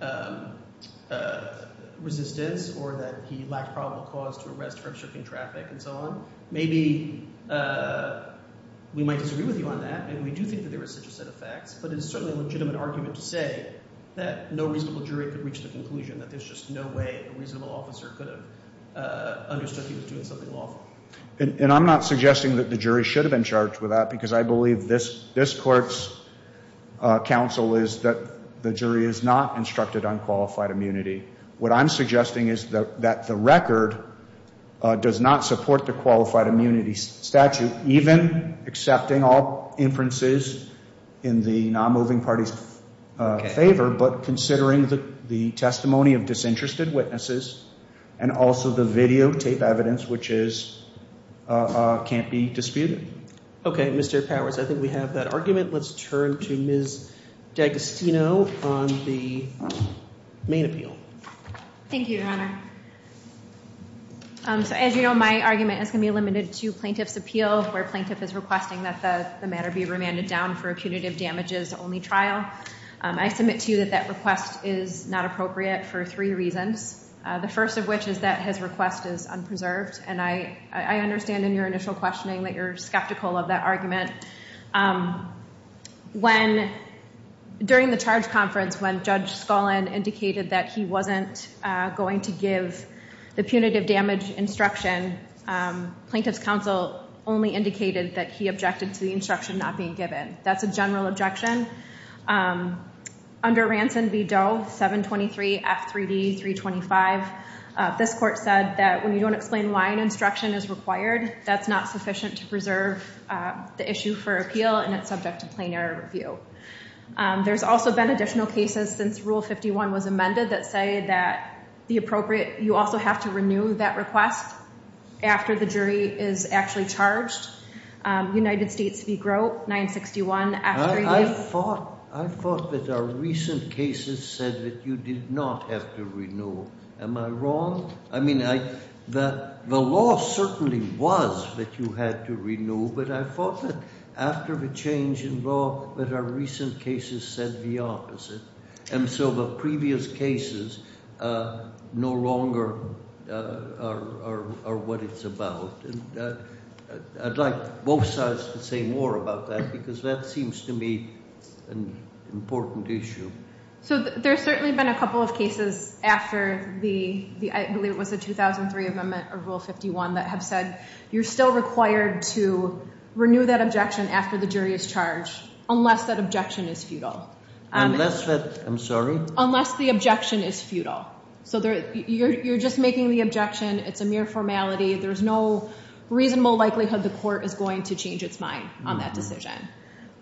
to resistance, or that he lacked probable cause to arrest her and shift in traffic, and so on. Maybe we might disagree with you on that, and we do think that there was such a set of facts, but it's certainly a legitimate argument to say that no reasonable jury could have reached a conclusion, that there's just no way a reasonable officer could have understood he was doing something wrong. And I'm not suggesting that the jury should have been charged with that, because I believe this court's counsel is that the jury is not instructed on qualified immunity. What I'm suggesting is that the record does not support the qualified immunity statute, even accepting all inferences in the non-moving party's favor, but considering the testimony of disinterested witnesses, and also the videotape evidence which can't be disputed. Okay, Mr. Towers, I think we have that argument. Let's turn to Ms. D'Agostino from the main appeal. Thank you, Your Honor. As you know, my argument is going to be limited to plaintiff's appeal, where a plaintiff is requesting that the matter be remanded down for a punitive damages only trial. I submit to you that that request is not appropriate for three reasons, the first of which is that his request is unpreserved, and I understand in your initial questioning that you're skeptical of that argument. During the charge conference, when Judge Scullin indicated that he wasn't going to give the punitive damage instruction, plaintiff's counsel only indicated that he objected to the instruction not being given. That's a general objection. Under Ranson v. Doe, 723F3D325, this court said that when you don't explain why an instruction is required, that's not sufficient to preserve the issue for appeal and it's subject to plain error review. There's also been additional cases since Rule 51 was amended that say that the appropriate, you also have to renew that request after the jury is actually charged. United States v. Grote, 961. I thought that our recent cases said that you did not have to renew. Am I wrong? I mean, the law certainly was that you had to renew, but I thought that after the change in law that our recent cases said the opposite, and so the previous cases no longer are what it's about. I'd like both sides to say more about that, because that seems to me an important issue. There's certainly been a couple of cases after the 2003 amendment or Rule 51 that have said you're still required to renew that objection after the jury is charged, unless that objection is futile. Unless that, I'm sorry? Unless the objection is futile. You're just making the objection. It's a mere formality. There's no reasonable likelihood the court is going to change its mind on that decision.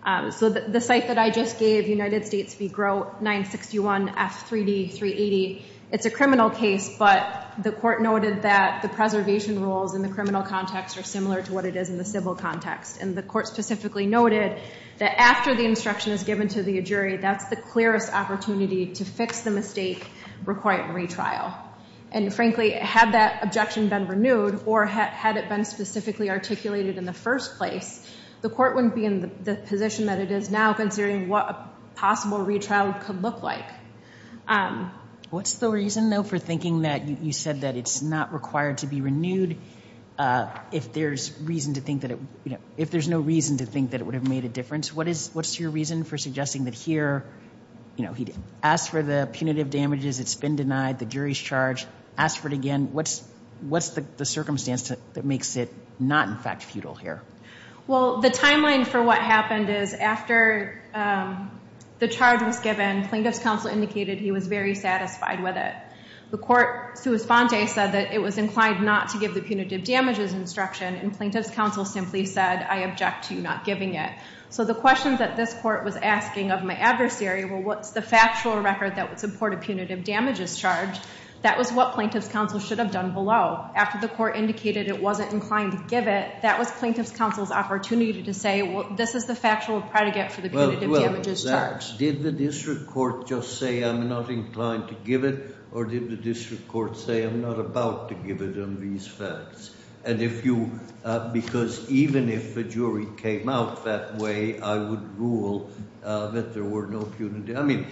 The site that I just gave, United States v. Grote, 961 F3D380, it's a criminal case, but the court noted that the preservation rules in the criminal context are similar to what it is in the civil context, and the court specifically noted that after the instruction is given to the jury, that's the clearest opportunity to fix the mistake requiring retrial. And frankly, had that objection been renewed, or had it been specifically articulated in the first place, the court wouldn't be in the position that it is now considering what a possible retrial could look like. What's the reason, though, for thinking that you said that it's not required to be renewed if there's no reason to think that it would have made a difference? What's your reason for suggesting that here, you know, he'd ask for the punitive damages, it's been denied, the jury's charged, ask for it again. What's the circumstance that makes it not, in fact, futile here? Well, the timeline for what happened is after the charge was given, Plaintiff's counsel indicated he was very satisfied with it. The court, to his fondness, said that it was inclined not to give the punitive damages instruction, and Plaintiff's counsel simply said, I object to you not giving it. So the questions that this court was asking of my adversary were, what's the factual record that would support a punitive damages charge? That was what Plaintiff's counsel should have done below. After the court indicated it wasn't inclined to give it, that was Plaintiff's counsel's opportunity to say, well, this is the factual record to get to the punitive damages charge. Well, did the district court just say, I'm not inclined to give it, or did the district court say, I'm not about to give it on these facts? Because even if the jury came out that way, I would rule that there were no punitive damages.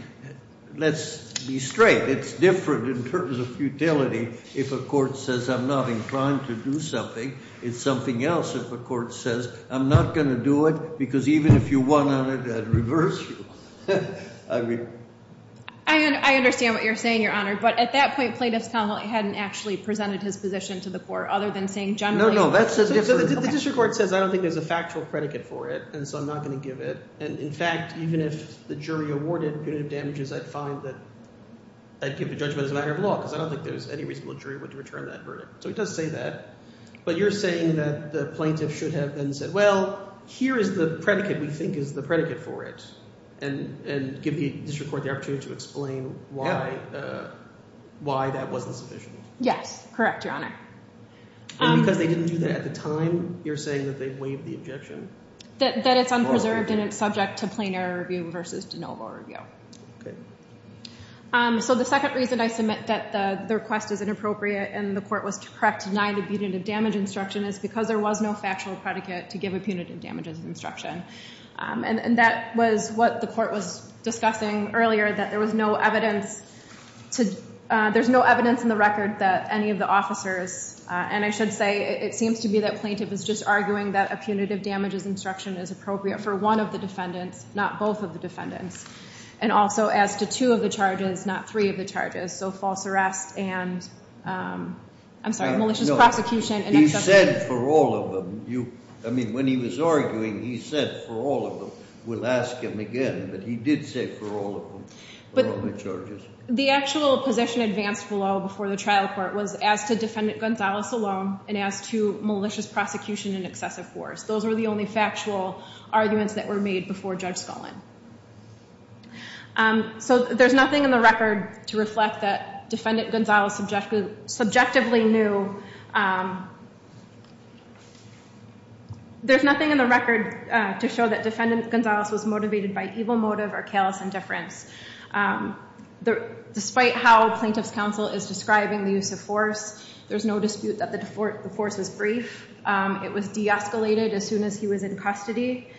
Let's be straight. It's different in terms of futility if a court says, I'm not inclined to do something. It's something else if a court says, I'm not going to do it, because even if you won on it, I'd reverse you. I understand what you're saying, Your Honor. But at that point, Plaintiff's counsel hadn't actually presented his position to the court other than saying, generally. No, no. The district court says, I don't think there's a factual predicate for it, and so I'm not going to give it. And in fact, even if the jury awarded punitive damages, I'd find that I'd give a judgment as a matter of law, because I don't think any reasonable jury would return that verdict. So he does say that. But you're saying that the Plaintiff should have then said, well, here is the predicate we think is the predicate for it, and give the district court the opportunity to explain why that wasn't sufficient. Yes. Correct, Your Honor. But they didn't do that at the time? You're saying that they've waived the objection? That it's unpreserved and it's subject to plain error review versus de novo review. Okay. So the second reason I submit that the request is inappropriate and the court was correct to deny the punitive damage instruction is because there was no factual predicate to give a punitive damage instruction. And that was what the court was discussing earlier, that there was no evidence in the record that any of the officers, and I should say it seems to me that Plaintiff is just arguing that a punitive damages instruction is appropriate for one of the defendants, not both of the defendants. And also adds to two of the charges, not three of the charges. So false arrest and, I'm sorry, malicious prostitution. He said for all of them. I mean, when he was arguing, he said for all of them. We'll ask him again, but he did say for all of them, for all of the charges. The actual position advanced below before the trial court was as to Defendant Gonzales alone and as to malicious prosecution and excessive force. Those were the only factual arguments that were made before Judge Scullin. So there's nothing in the record to reflect that Defendant Gonzales subjectively knew. There's nothing in the record to show that Defendant Gonzales was motivated by evil motive or callous indifference. Despite how Plaintiff's counsel is describing the use of force, there's no dispute that the force was brief. It was de-escalated as soon as he was in custody.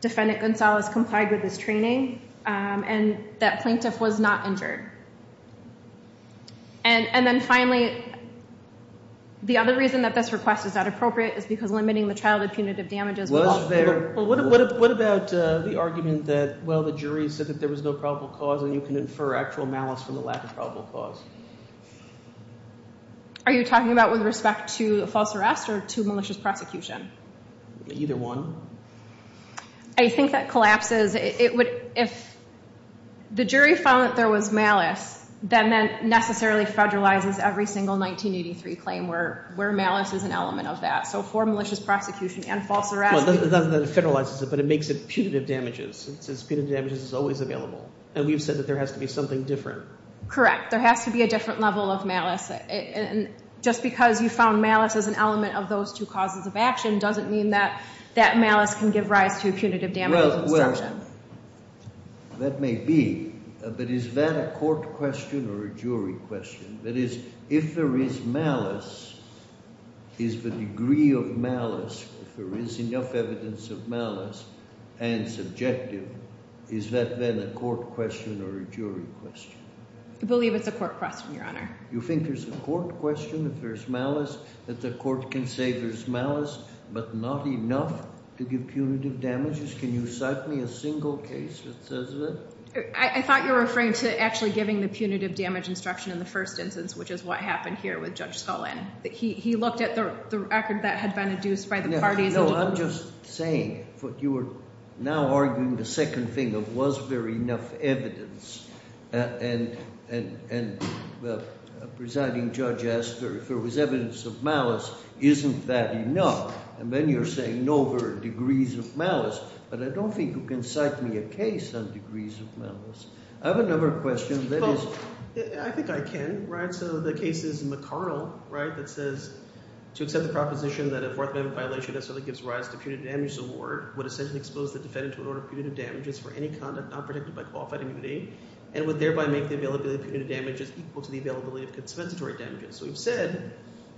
Defendant Gonzales complied with his training and that Plaintiff was not injured. And then finally, the other reason that this request is not appropriate is because limiting the childhood punitive damage is not fair. What about the argument that, well, the jury said that there was no probable cause and you can infer actual malice from the lack of probable cause? Are you talking about with respect to false arrest or to malicious prosecution? Either one. I think that collapses. If the jury found that there was malice, that necessarily federalizes every single 1983 claim where malice is an element of that. So for malicious prosecution and false arrest. It doesn't federalize it, but it makes it punitive damages. Punitive damages is always available. You said that there has to be something different. Correct. There has to be a different level of malice. Well, that may be. But is that a court question or a jury question? That is, if there is malice, is the degree of malice, if there is enough evidence of malice and it's objective, is that then a court question or a jury question? I believe it's a court question, Your Honor. You think there's a court question if there's malice? That the court can say there's malice, but not enough to give punitive damages? Can you cite me a single case that does that? I thought you were referring to actually giving the punitive damage instruction in the first instance, which is what happened here with Judge Sullivan. He looked at the record that had been induced by the party. No, I'm just saying what you are now arguing, the second thing, was there enough evidence? And the presiding judge asked if there was evidence of malice. Isn't that enough? And then you're saying, no, there are degrees of malice. But I don't think you can cite me a case on degrees of malice. I have another question that is... I think I can. So the case is McConnell, right? That says, to accept the proposition that a black man with a violation of a civil rights gives rise to a punitive damage award, would essentially expose the defendant to an order of punitive damages for any conduct not predicted by qualified immunity, and would thereby make the availability of punitive damages equal to the availability of compensatory damages. So he said,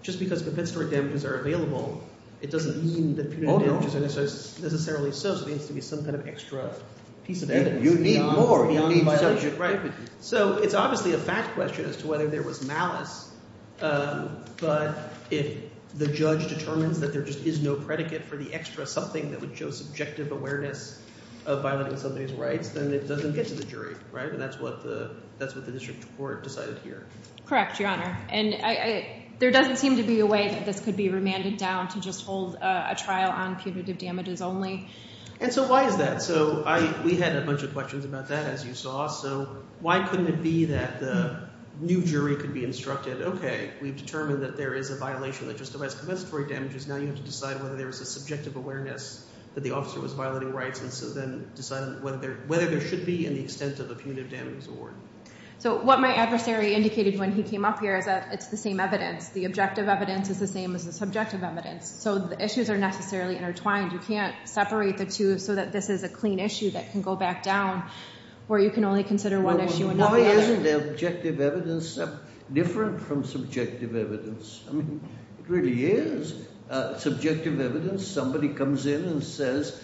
just because compensatory damages are available, it doesn't mean that punitive damages are necessarily associated with some kind of extra piece of evidence. You need more. You don't need violence. So it's obviously a fact question as to whether there was malice. But if the judge determined that there just is no predicate for the extra something that would show subjective awareness of violating somebody's rights, then it doesn't get to the jury, right? And that's what the district court decides here. Correct, Your Honor. And there doesn't seem to be a way that this could be remanded down to just hold a trial on punitive damages only. And so why is that? So we had a bunch of questions about that, as you saw. So why couldn't it be that a new jury could be instructed, okay, if we determine that there is a violation that just provides compensatory damages, then we need to decide whether there's a subjective awareness that the officer was violating rights, and so then decide whether there should be any sense of a punitive damages award. So what my adversary indicated when he came up here is that it's the same evidence. The objective evidence is the same as the subjective evidence. So the issues are necessarily intertwined. You can't separate the two so that this is a clean issue that can go back down where you can only consider one issue and not the other. Well, isn't the objective evidence different from subjective evidence? I mean, it really is. Subjective evidence, somebody comes in and says,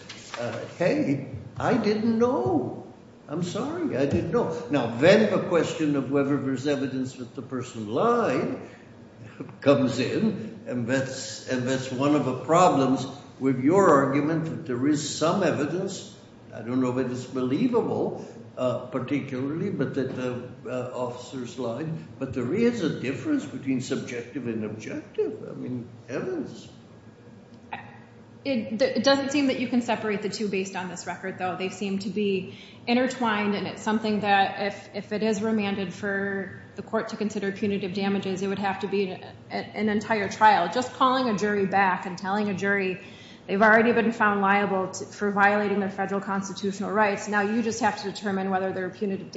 hey, I didn't know. I'm sorry, I didn't know. Now, then the question of whether there's evidence that the person lied comes in, and that's one of the problems with your argument that there is some evidence. I don't know whether it's believable, particularly, but that the officers lied. But there is a difference between subjective and objective evidence. It doesn't seem that you can separate the two based on this record, though. They seem to be intertwined, and it's something that, if it is remanded for the court to consider punitive damages, it would have to be an entire trial. Just calling a jury back and telling a jury, they've already been found liable for violating their federal constitutional rights. Now you just have to determine whether their punitive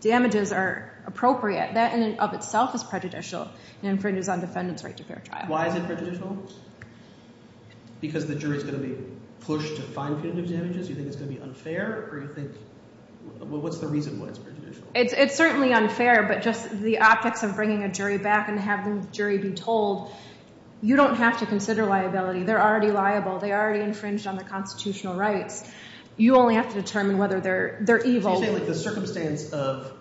damages are appropriate. That in and of itself is prejudicial. It infringes on defendant's right to fair trial. Why is it prejudicial? Because the jury is going to be pushed to fine punitive damages? You think it's going to be unfair? What's the reason why it's prejudicial? It's certainly unfair, but just the optics of bringing a jury back and having the jury be told, you don't have to consider liability. They're already liable. They already infringed on their constitutional rights. You only have to determine whether they're evil. The circumstance of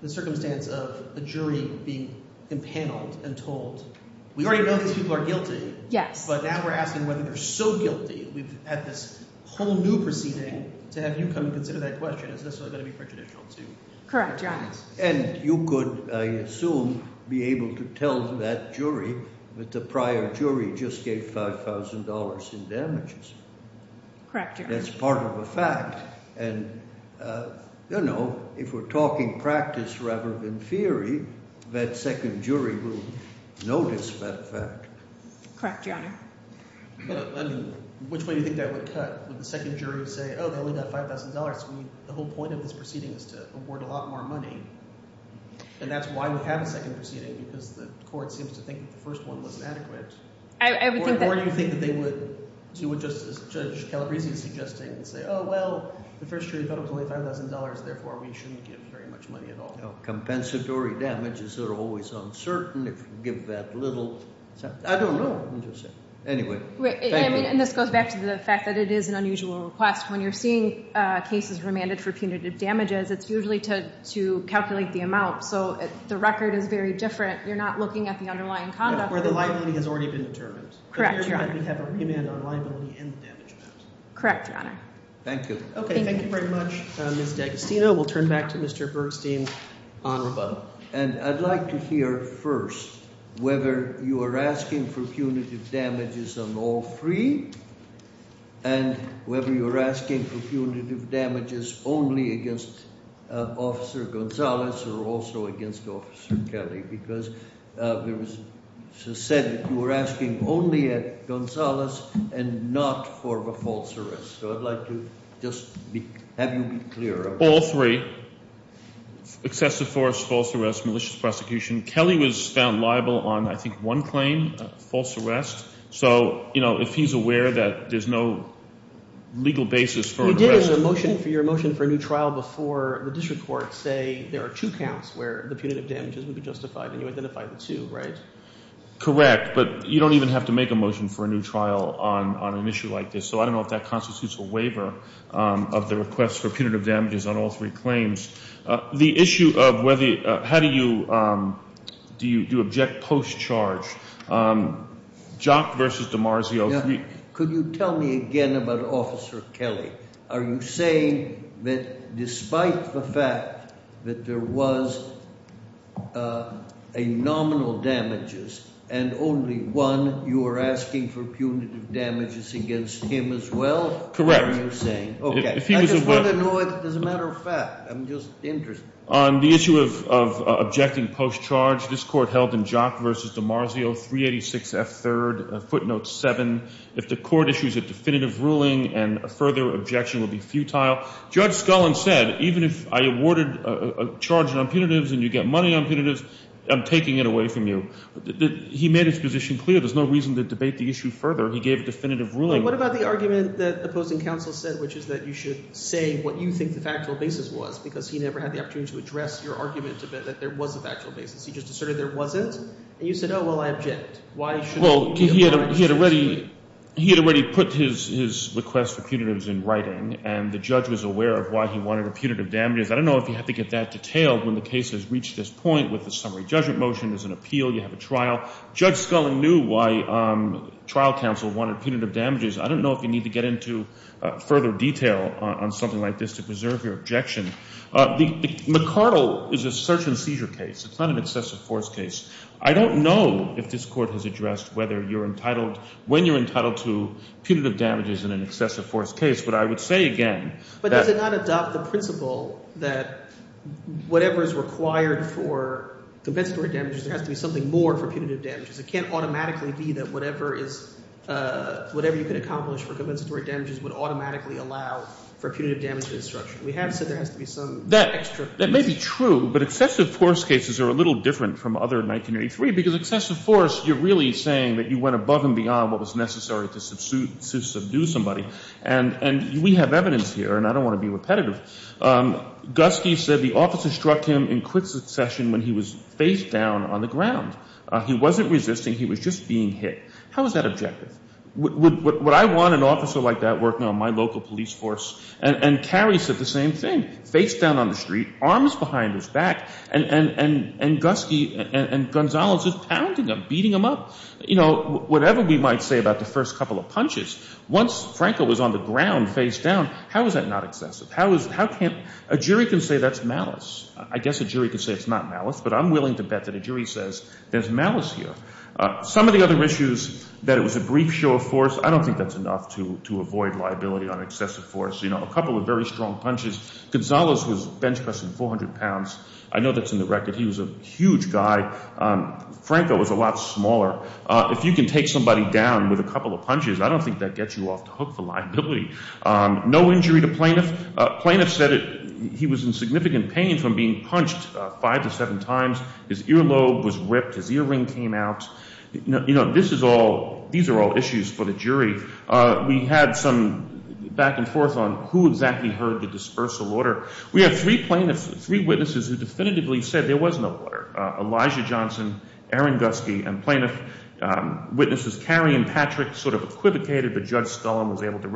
the jury being empaneled and told, we already know these people are guilty, but now we're asking whether they're still guilty. We've had this whole new proceeding, and as you come to consider that question, is this going to be prejudicial to you? Correct, yeah. And you could, I assume, be able to tell that jury that the prior jury just gave $5,000 in damages. That's part of the fact. And, you know, if we're talking practice rather than theory, that second jury will notice that fact. Correct, yeah. Which way do you think that would cut? Would the second jury say, oh, they only got $5,000, so the whole point of this proceeding is to award a lot more money? And that's why we have a second proceeding, because the court seems to think the first one wasn't adequate. Or do you think that they would, you would just, as Judge Calabresi suggested, say, oh, well, the first jury felt it was only $5,000, therefore we shouldn't give very much money at all? No. Compensatory damages are always uncertain, if you give that little. I don't know. Anyway. And this goes back to the fact that it is an unusual request. When you're seeing cases remanded for punitive damages, it's usually to calculate the amount, so the record is very different. You're not looking at the underlying conduct. No, where the likelihood has already been determined. Correct, yeah. Correct, Your Honor. Thank you. Okay, thank you very much, Ms. D'Agostino. We'll turn back to Mr. Bergstein, Honorable. And I'd like to hear, first, whether you are asking for punitive damages on all three, and whether you're asking for punitive damages only against Officer Gonzalez or also against Officer Kelly, because it was said that you were asking only at Gonzalez and not for the false arrest. So I'd like to just have you be clear. All three. Excessive force, false arrest, malicious prosecution. Kelly was found liable on, I think, one claim, a false arrest. So, you know, if he's aware that there's no legal basis for arrest. You're getting a motion for a new trial before the district courts say there are two counts where the punitive damage isn't justified, and you identify the two, right? Correct. But you don't even have to make a motion for a new trial on an issue like this. So I don't know if that constitutes a waiver of the request for punitive damages on all three claims. The issue of whether, how do you, do you object post-charge? Jock versus DiMarzio. Could you tell me again about Officer Kelly? Are you saying that despite the fact that there was a nominal damages and only one, you are asking for punitive damages against him as well? Correct. Are you saying, okay. I just want to know as a matter of fact. I'm just interested. On the issue of objecting post-charge, this court held in Jock versus DiMarzio, 386 F. 3rd, footnote 7. If the court issues a definitive ruling and further objection would be futile. Judge Scullin said, even if I awarded a charge on punitives and you get money on punitives, I'm taking it away from you. He made his position clear. There's no reason to debate the issue further. He gave a definitive ruling. What about the argument that the opposing counsel said, which is that you should say what you think the factual basis was, because he never had the opportunity to address your argument that there was a factual basis. He just asserted there wasn't. And you said, oh, well, I object. Well, he had already put his request for punitives in writing and the judge was aware of why he wanted punitive damages. I don't know if you have to get that detailed when the case has reached this point with the summary judgment motion. There's an appeal. You have a trial. Judge Scullin knew why trial counsel wanted punitive damages. I don't know if you need to get into further detail on something like this to preserve your objection. The McCardle is a search and seizure case. It's not an excessive force case. I don't know if this court has addressed whether you're entitled, when you're entitled to punitive damages in an excessive force case, but I would say again that— But they did not adopt the principle that whatever is required for compensatory damages has to be something more for punitive damages. It can't automatically be that whatever you can accomplish for compensatory damages would automatically allow for punitive damages. We have said there has to be some extra— That may be true, but excessive force cases are a little different from other 1983, because excessive force you're really saying that you went above and beyond what was necessary to subdue somebody. And we have evidence here, and I don't want to be repetitive. Guskey said the officer struck him in quick succession when he was face down on the ground. He wasn't resisting. He was just being hit. How is that objective? Would I want an officer like that working on my local police force? And Carey said the same thing. Face down on the street, arms behind his back, and Guskey and Gonzales is pounding him, beating him up. Whatever we might say about the first couple of punches, once Franco was on the ground face down, how is that not excessive? A jury can say that's malice. I guess a jury can say it's not malice, but I'm willing to bet that a jury says there's malice here. Some of the other issues, that it was a brief show of force, I don't think that's enough to avoid liability on excessive force. A couple of very strong punches. Gonzales was bench pressing 400 pounds. I know that's in the record. He was a huge guy. Franco was a lot smaller. If you can take somebody down with a couple of punches, I don't think that gets you off the hook, the liability. No injury to plaintiff. Plaintiff said he was in significant pain from being punched five to seven times. His earlobe was ripped. His earring came out. These are all issues for the jury. We had some back and forth on who exactly heard the dispersal order. We had three plaintiffs, three witnesses, who definitively said there was no order. Elijah Johnson, Aaron Guskey, and plaintiff witnesses Carrie and Patrick sort of equivocated, but Judge Scullin was able to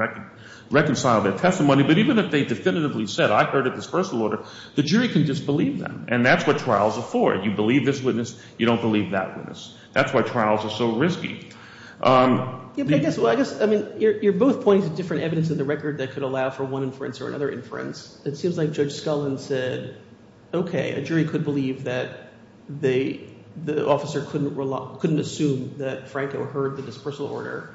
reconcile their testimony. But even if they definitively said, I heard a dispersal order, the jury can just believe them. And that's what trials are for. You believe this witness, you don't believe that witness. That's why trials are so risky. You're both pointing to different evidence in the record that could allow for one inference or another inference. It seems like Judge Scullin said, OK, a jury could believe that the officer couldn't assume that Franco heard the dispersal order.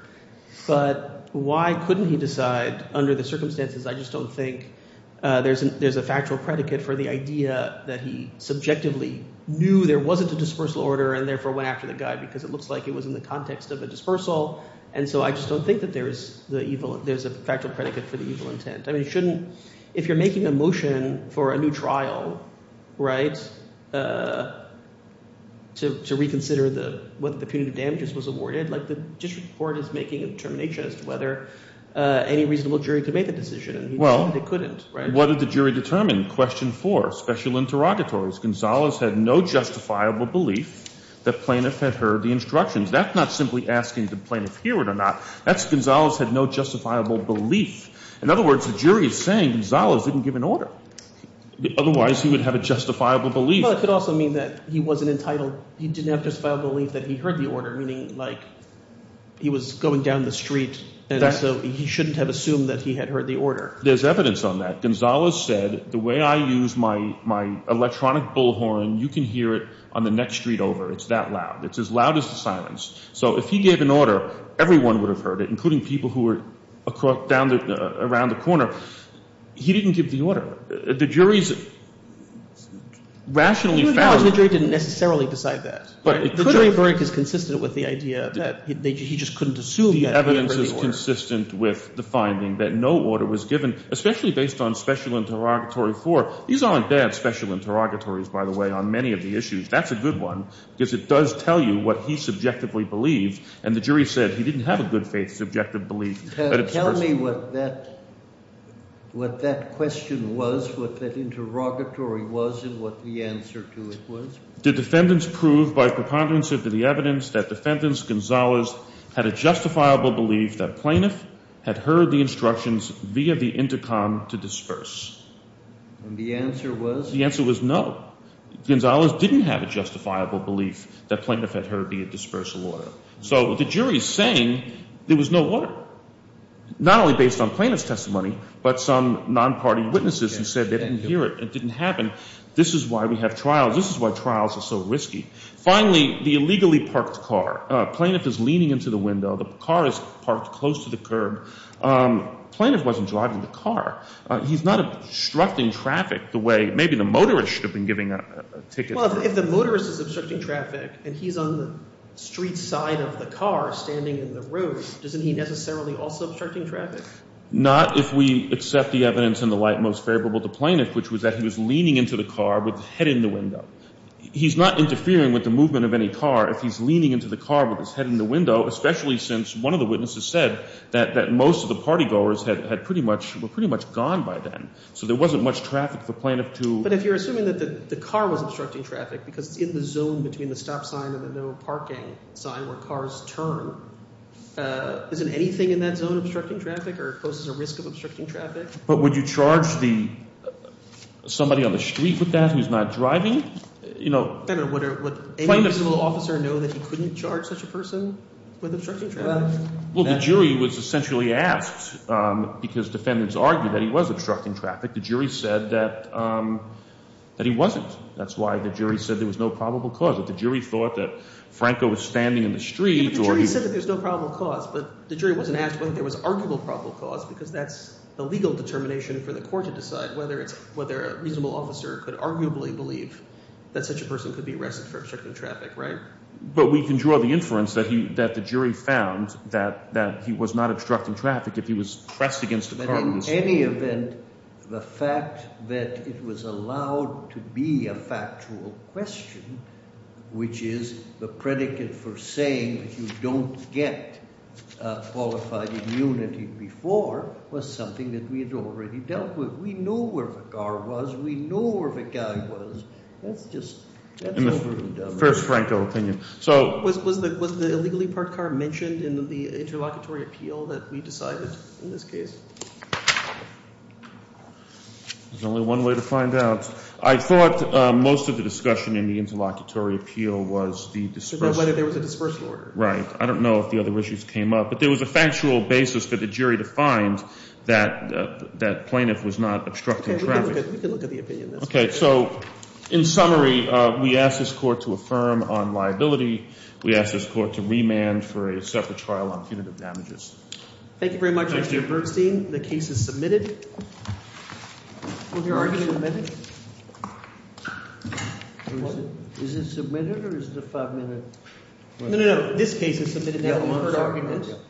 But why couldn't he decide under the circumstances? I just don't think there's a factual predicate for the idea that he subjectively knew there wasn't a dispersal order and therefore went after the guy because it looks like it was in the context of a dispersal. And so I just don't think that there's a factual predicate for the evil intent. If you're making a motion for a new trial to reconsider what the punitive damages was awarded, the district court is making a determination as to whether any reasonable jury could make a decision. Well, they couldn't. What did the jury determine? Question four, special interrogatories. Gonzales had no justifiable belief that Plaintiff had heard the instructions. That's not simply asking did Plaintiff hear it or not. That's Gonzales had no justifiable belief. In other words, the jury is saying Gonzales didn't give an order. Otherwise, he would have a justifiable belief. Well, it could also mean that he wasn't entitled. He didn't have a justifiable belief that he heard the order, meaning like he was going down the street. He shouldn't have assumed that he had heard the order. There's evidence on that. Gonzales said, the way I use my electronic bullhorn, you can hear it on the next street over. It's that loud. It's as loud as the silence. So if he gave an order, everyone would have heard it, including people who were around the corner. He didn't give the order. The jury's rationally found it. Even now, the jury didn't necessarily decide that. The jury is very consistent with the idea that he just couldn't assume he had heard the order. The evidence is consistent with the finding that no order was given, especially based on special interrogatory court. These aren't bad special interrogatories, by the way, on many of the issues. That's a good one, because it does tell you what he subjectively believed. And the jury said he didn't have a good faith subjective belief. Tell me what that question was, what that interrogatory was, and what the answer to it was. Did defendants prove by preponderance of the evidence that defendants Gonzales had a justifiable belief that Planoff had heard the instructions via the intercom to disperse? And the answer was? The answer was no. Gonzales didn't have a justifiable belief that Planoff had heard via dispersal order. So the jury is saying there was no order, not only based on Planoff's testimony, but some non-party witnesses who said they didn't hear it and it didn't happen. This is why we have trials. This is why trials are so risky. Finally, the illegally parked car. Planoff is leaning into the window. The car is parked close to the curb. Planoff wasn't driving the car. He's not obstructing traffic the way maybe the motorist should have been giving a ticket. Well, if the motorist is obstructing traffic and he's on the street side of the car standing in the road, doesn't he necessarily also obstructing traffic? Not if we accept the evidence in the light most favorable to Planoff, which was that he was leaning into the car with his head in the window. He's not interfering with the movement of any car if he's leaning into the car with his head in the window, especially since one of the witnesses said that most of the party goers were pretty much gone by then. So there wasn't much traffic for Planoff to. But if you're assuming that the car was obstructing traffic because in the zone between the stop sign and the parking sign where cars turn, isn't anything in that zone obstructing traffic or poses a risk of obstructing traffic? But would you charge somebody on the street with that who's not driving? Better. Would any legal officer know that you couldn't charge such a person with obstructing traffic? Well, the jury was essentially asked, because defendants argued that he was obstructing traffic. The jury said that he wasn't. That's why the jury said there was no probable cause. If the jury thought that Franco was standing in the street or he was The jury said that there's no probable cause. But the jury wasn't asking if there was an arguable probable cause because that's the legal determination for the court to decide whether a reasonable officer could arguably believe that such a person could be arrested for obstructing traffic, right? But we can draw the inference that the jury found that he was not obstructing traffic if he was pressed against the car In any event, the fact that it was allowed to be a factual question, which is the predicate for saying that you don't get qualified immunity before, was something that we had already dealt with. We know where the car was. We know where the guy was. That's just... First, Frank, your opinion. Was the illegally parked car mentioned in the interlocutory appeal that we decided in this case? There's only one way to find out. I thought most of the discussion in the interlocutory appeal was the disperse... The disperse order. Right. I don't know if the other issues came up. But there was a factual basis for the jury to find that the plaintiff was not obstructing traffic. We can look at the opinion. Okay. So, in summary, we asked this court to affirm on liability. We asked this court to remand for a separate trial on punitive damages. Thank you very much, Mr. Bernstein. The case is submitted. Is your argument meted? Is it submitted or is it five minutes? No, no, no. This case is submitted. Is that what the argument is?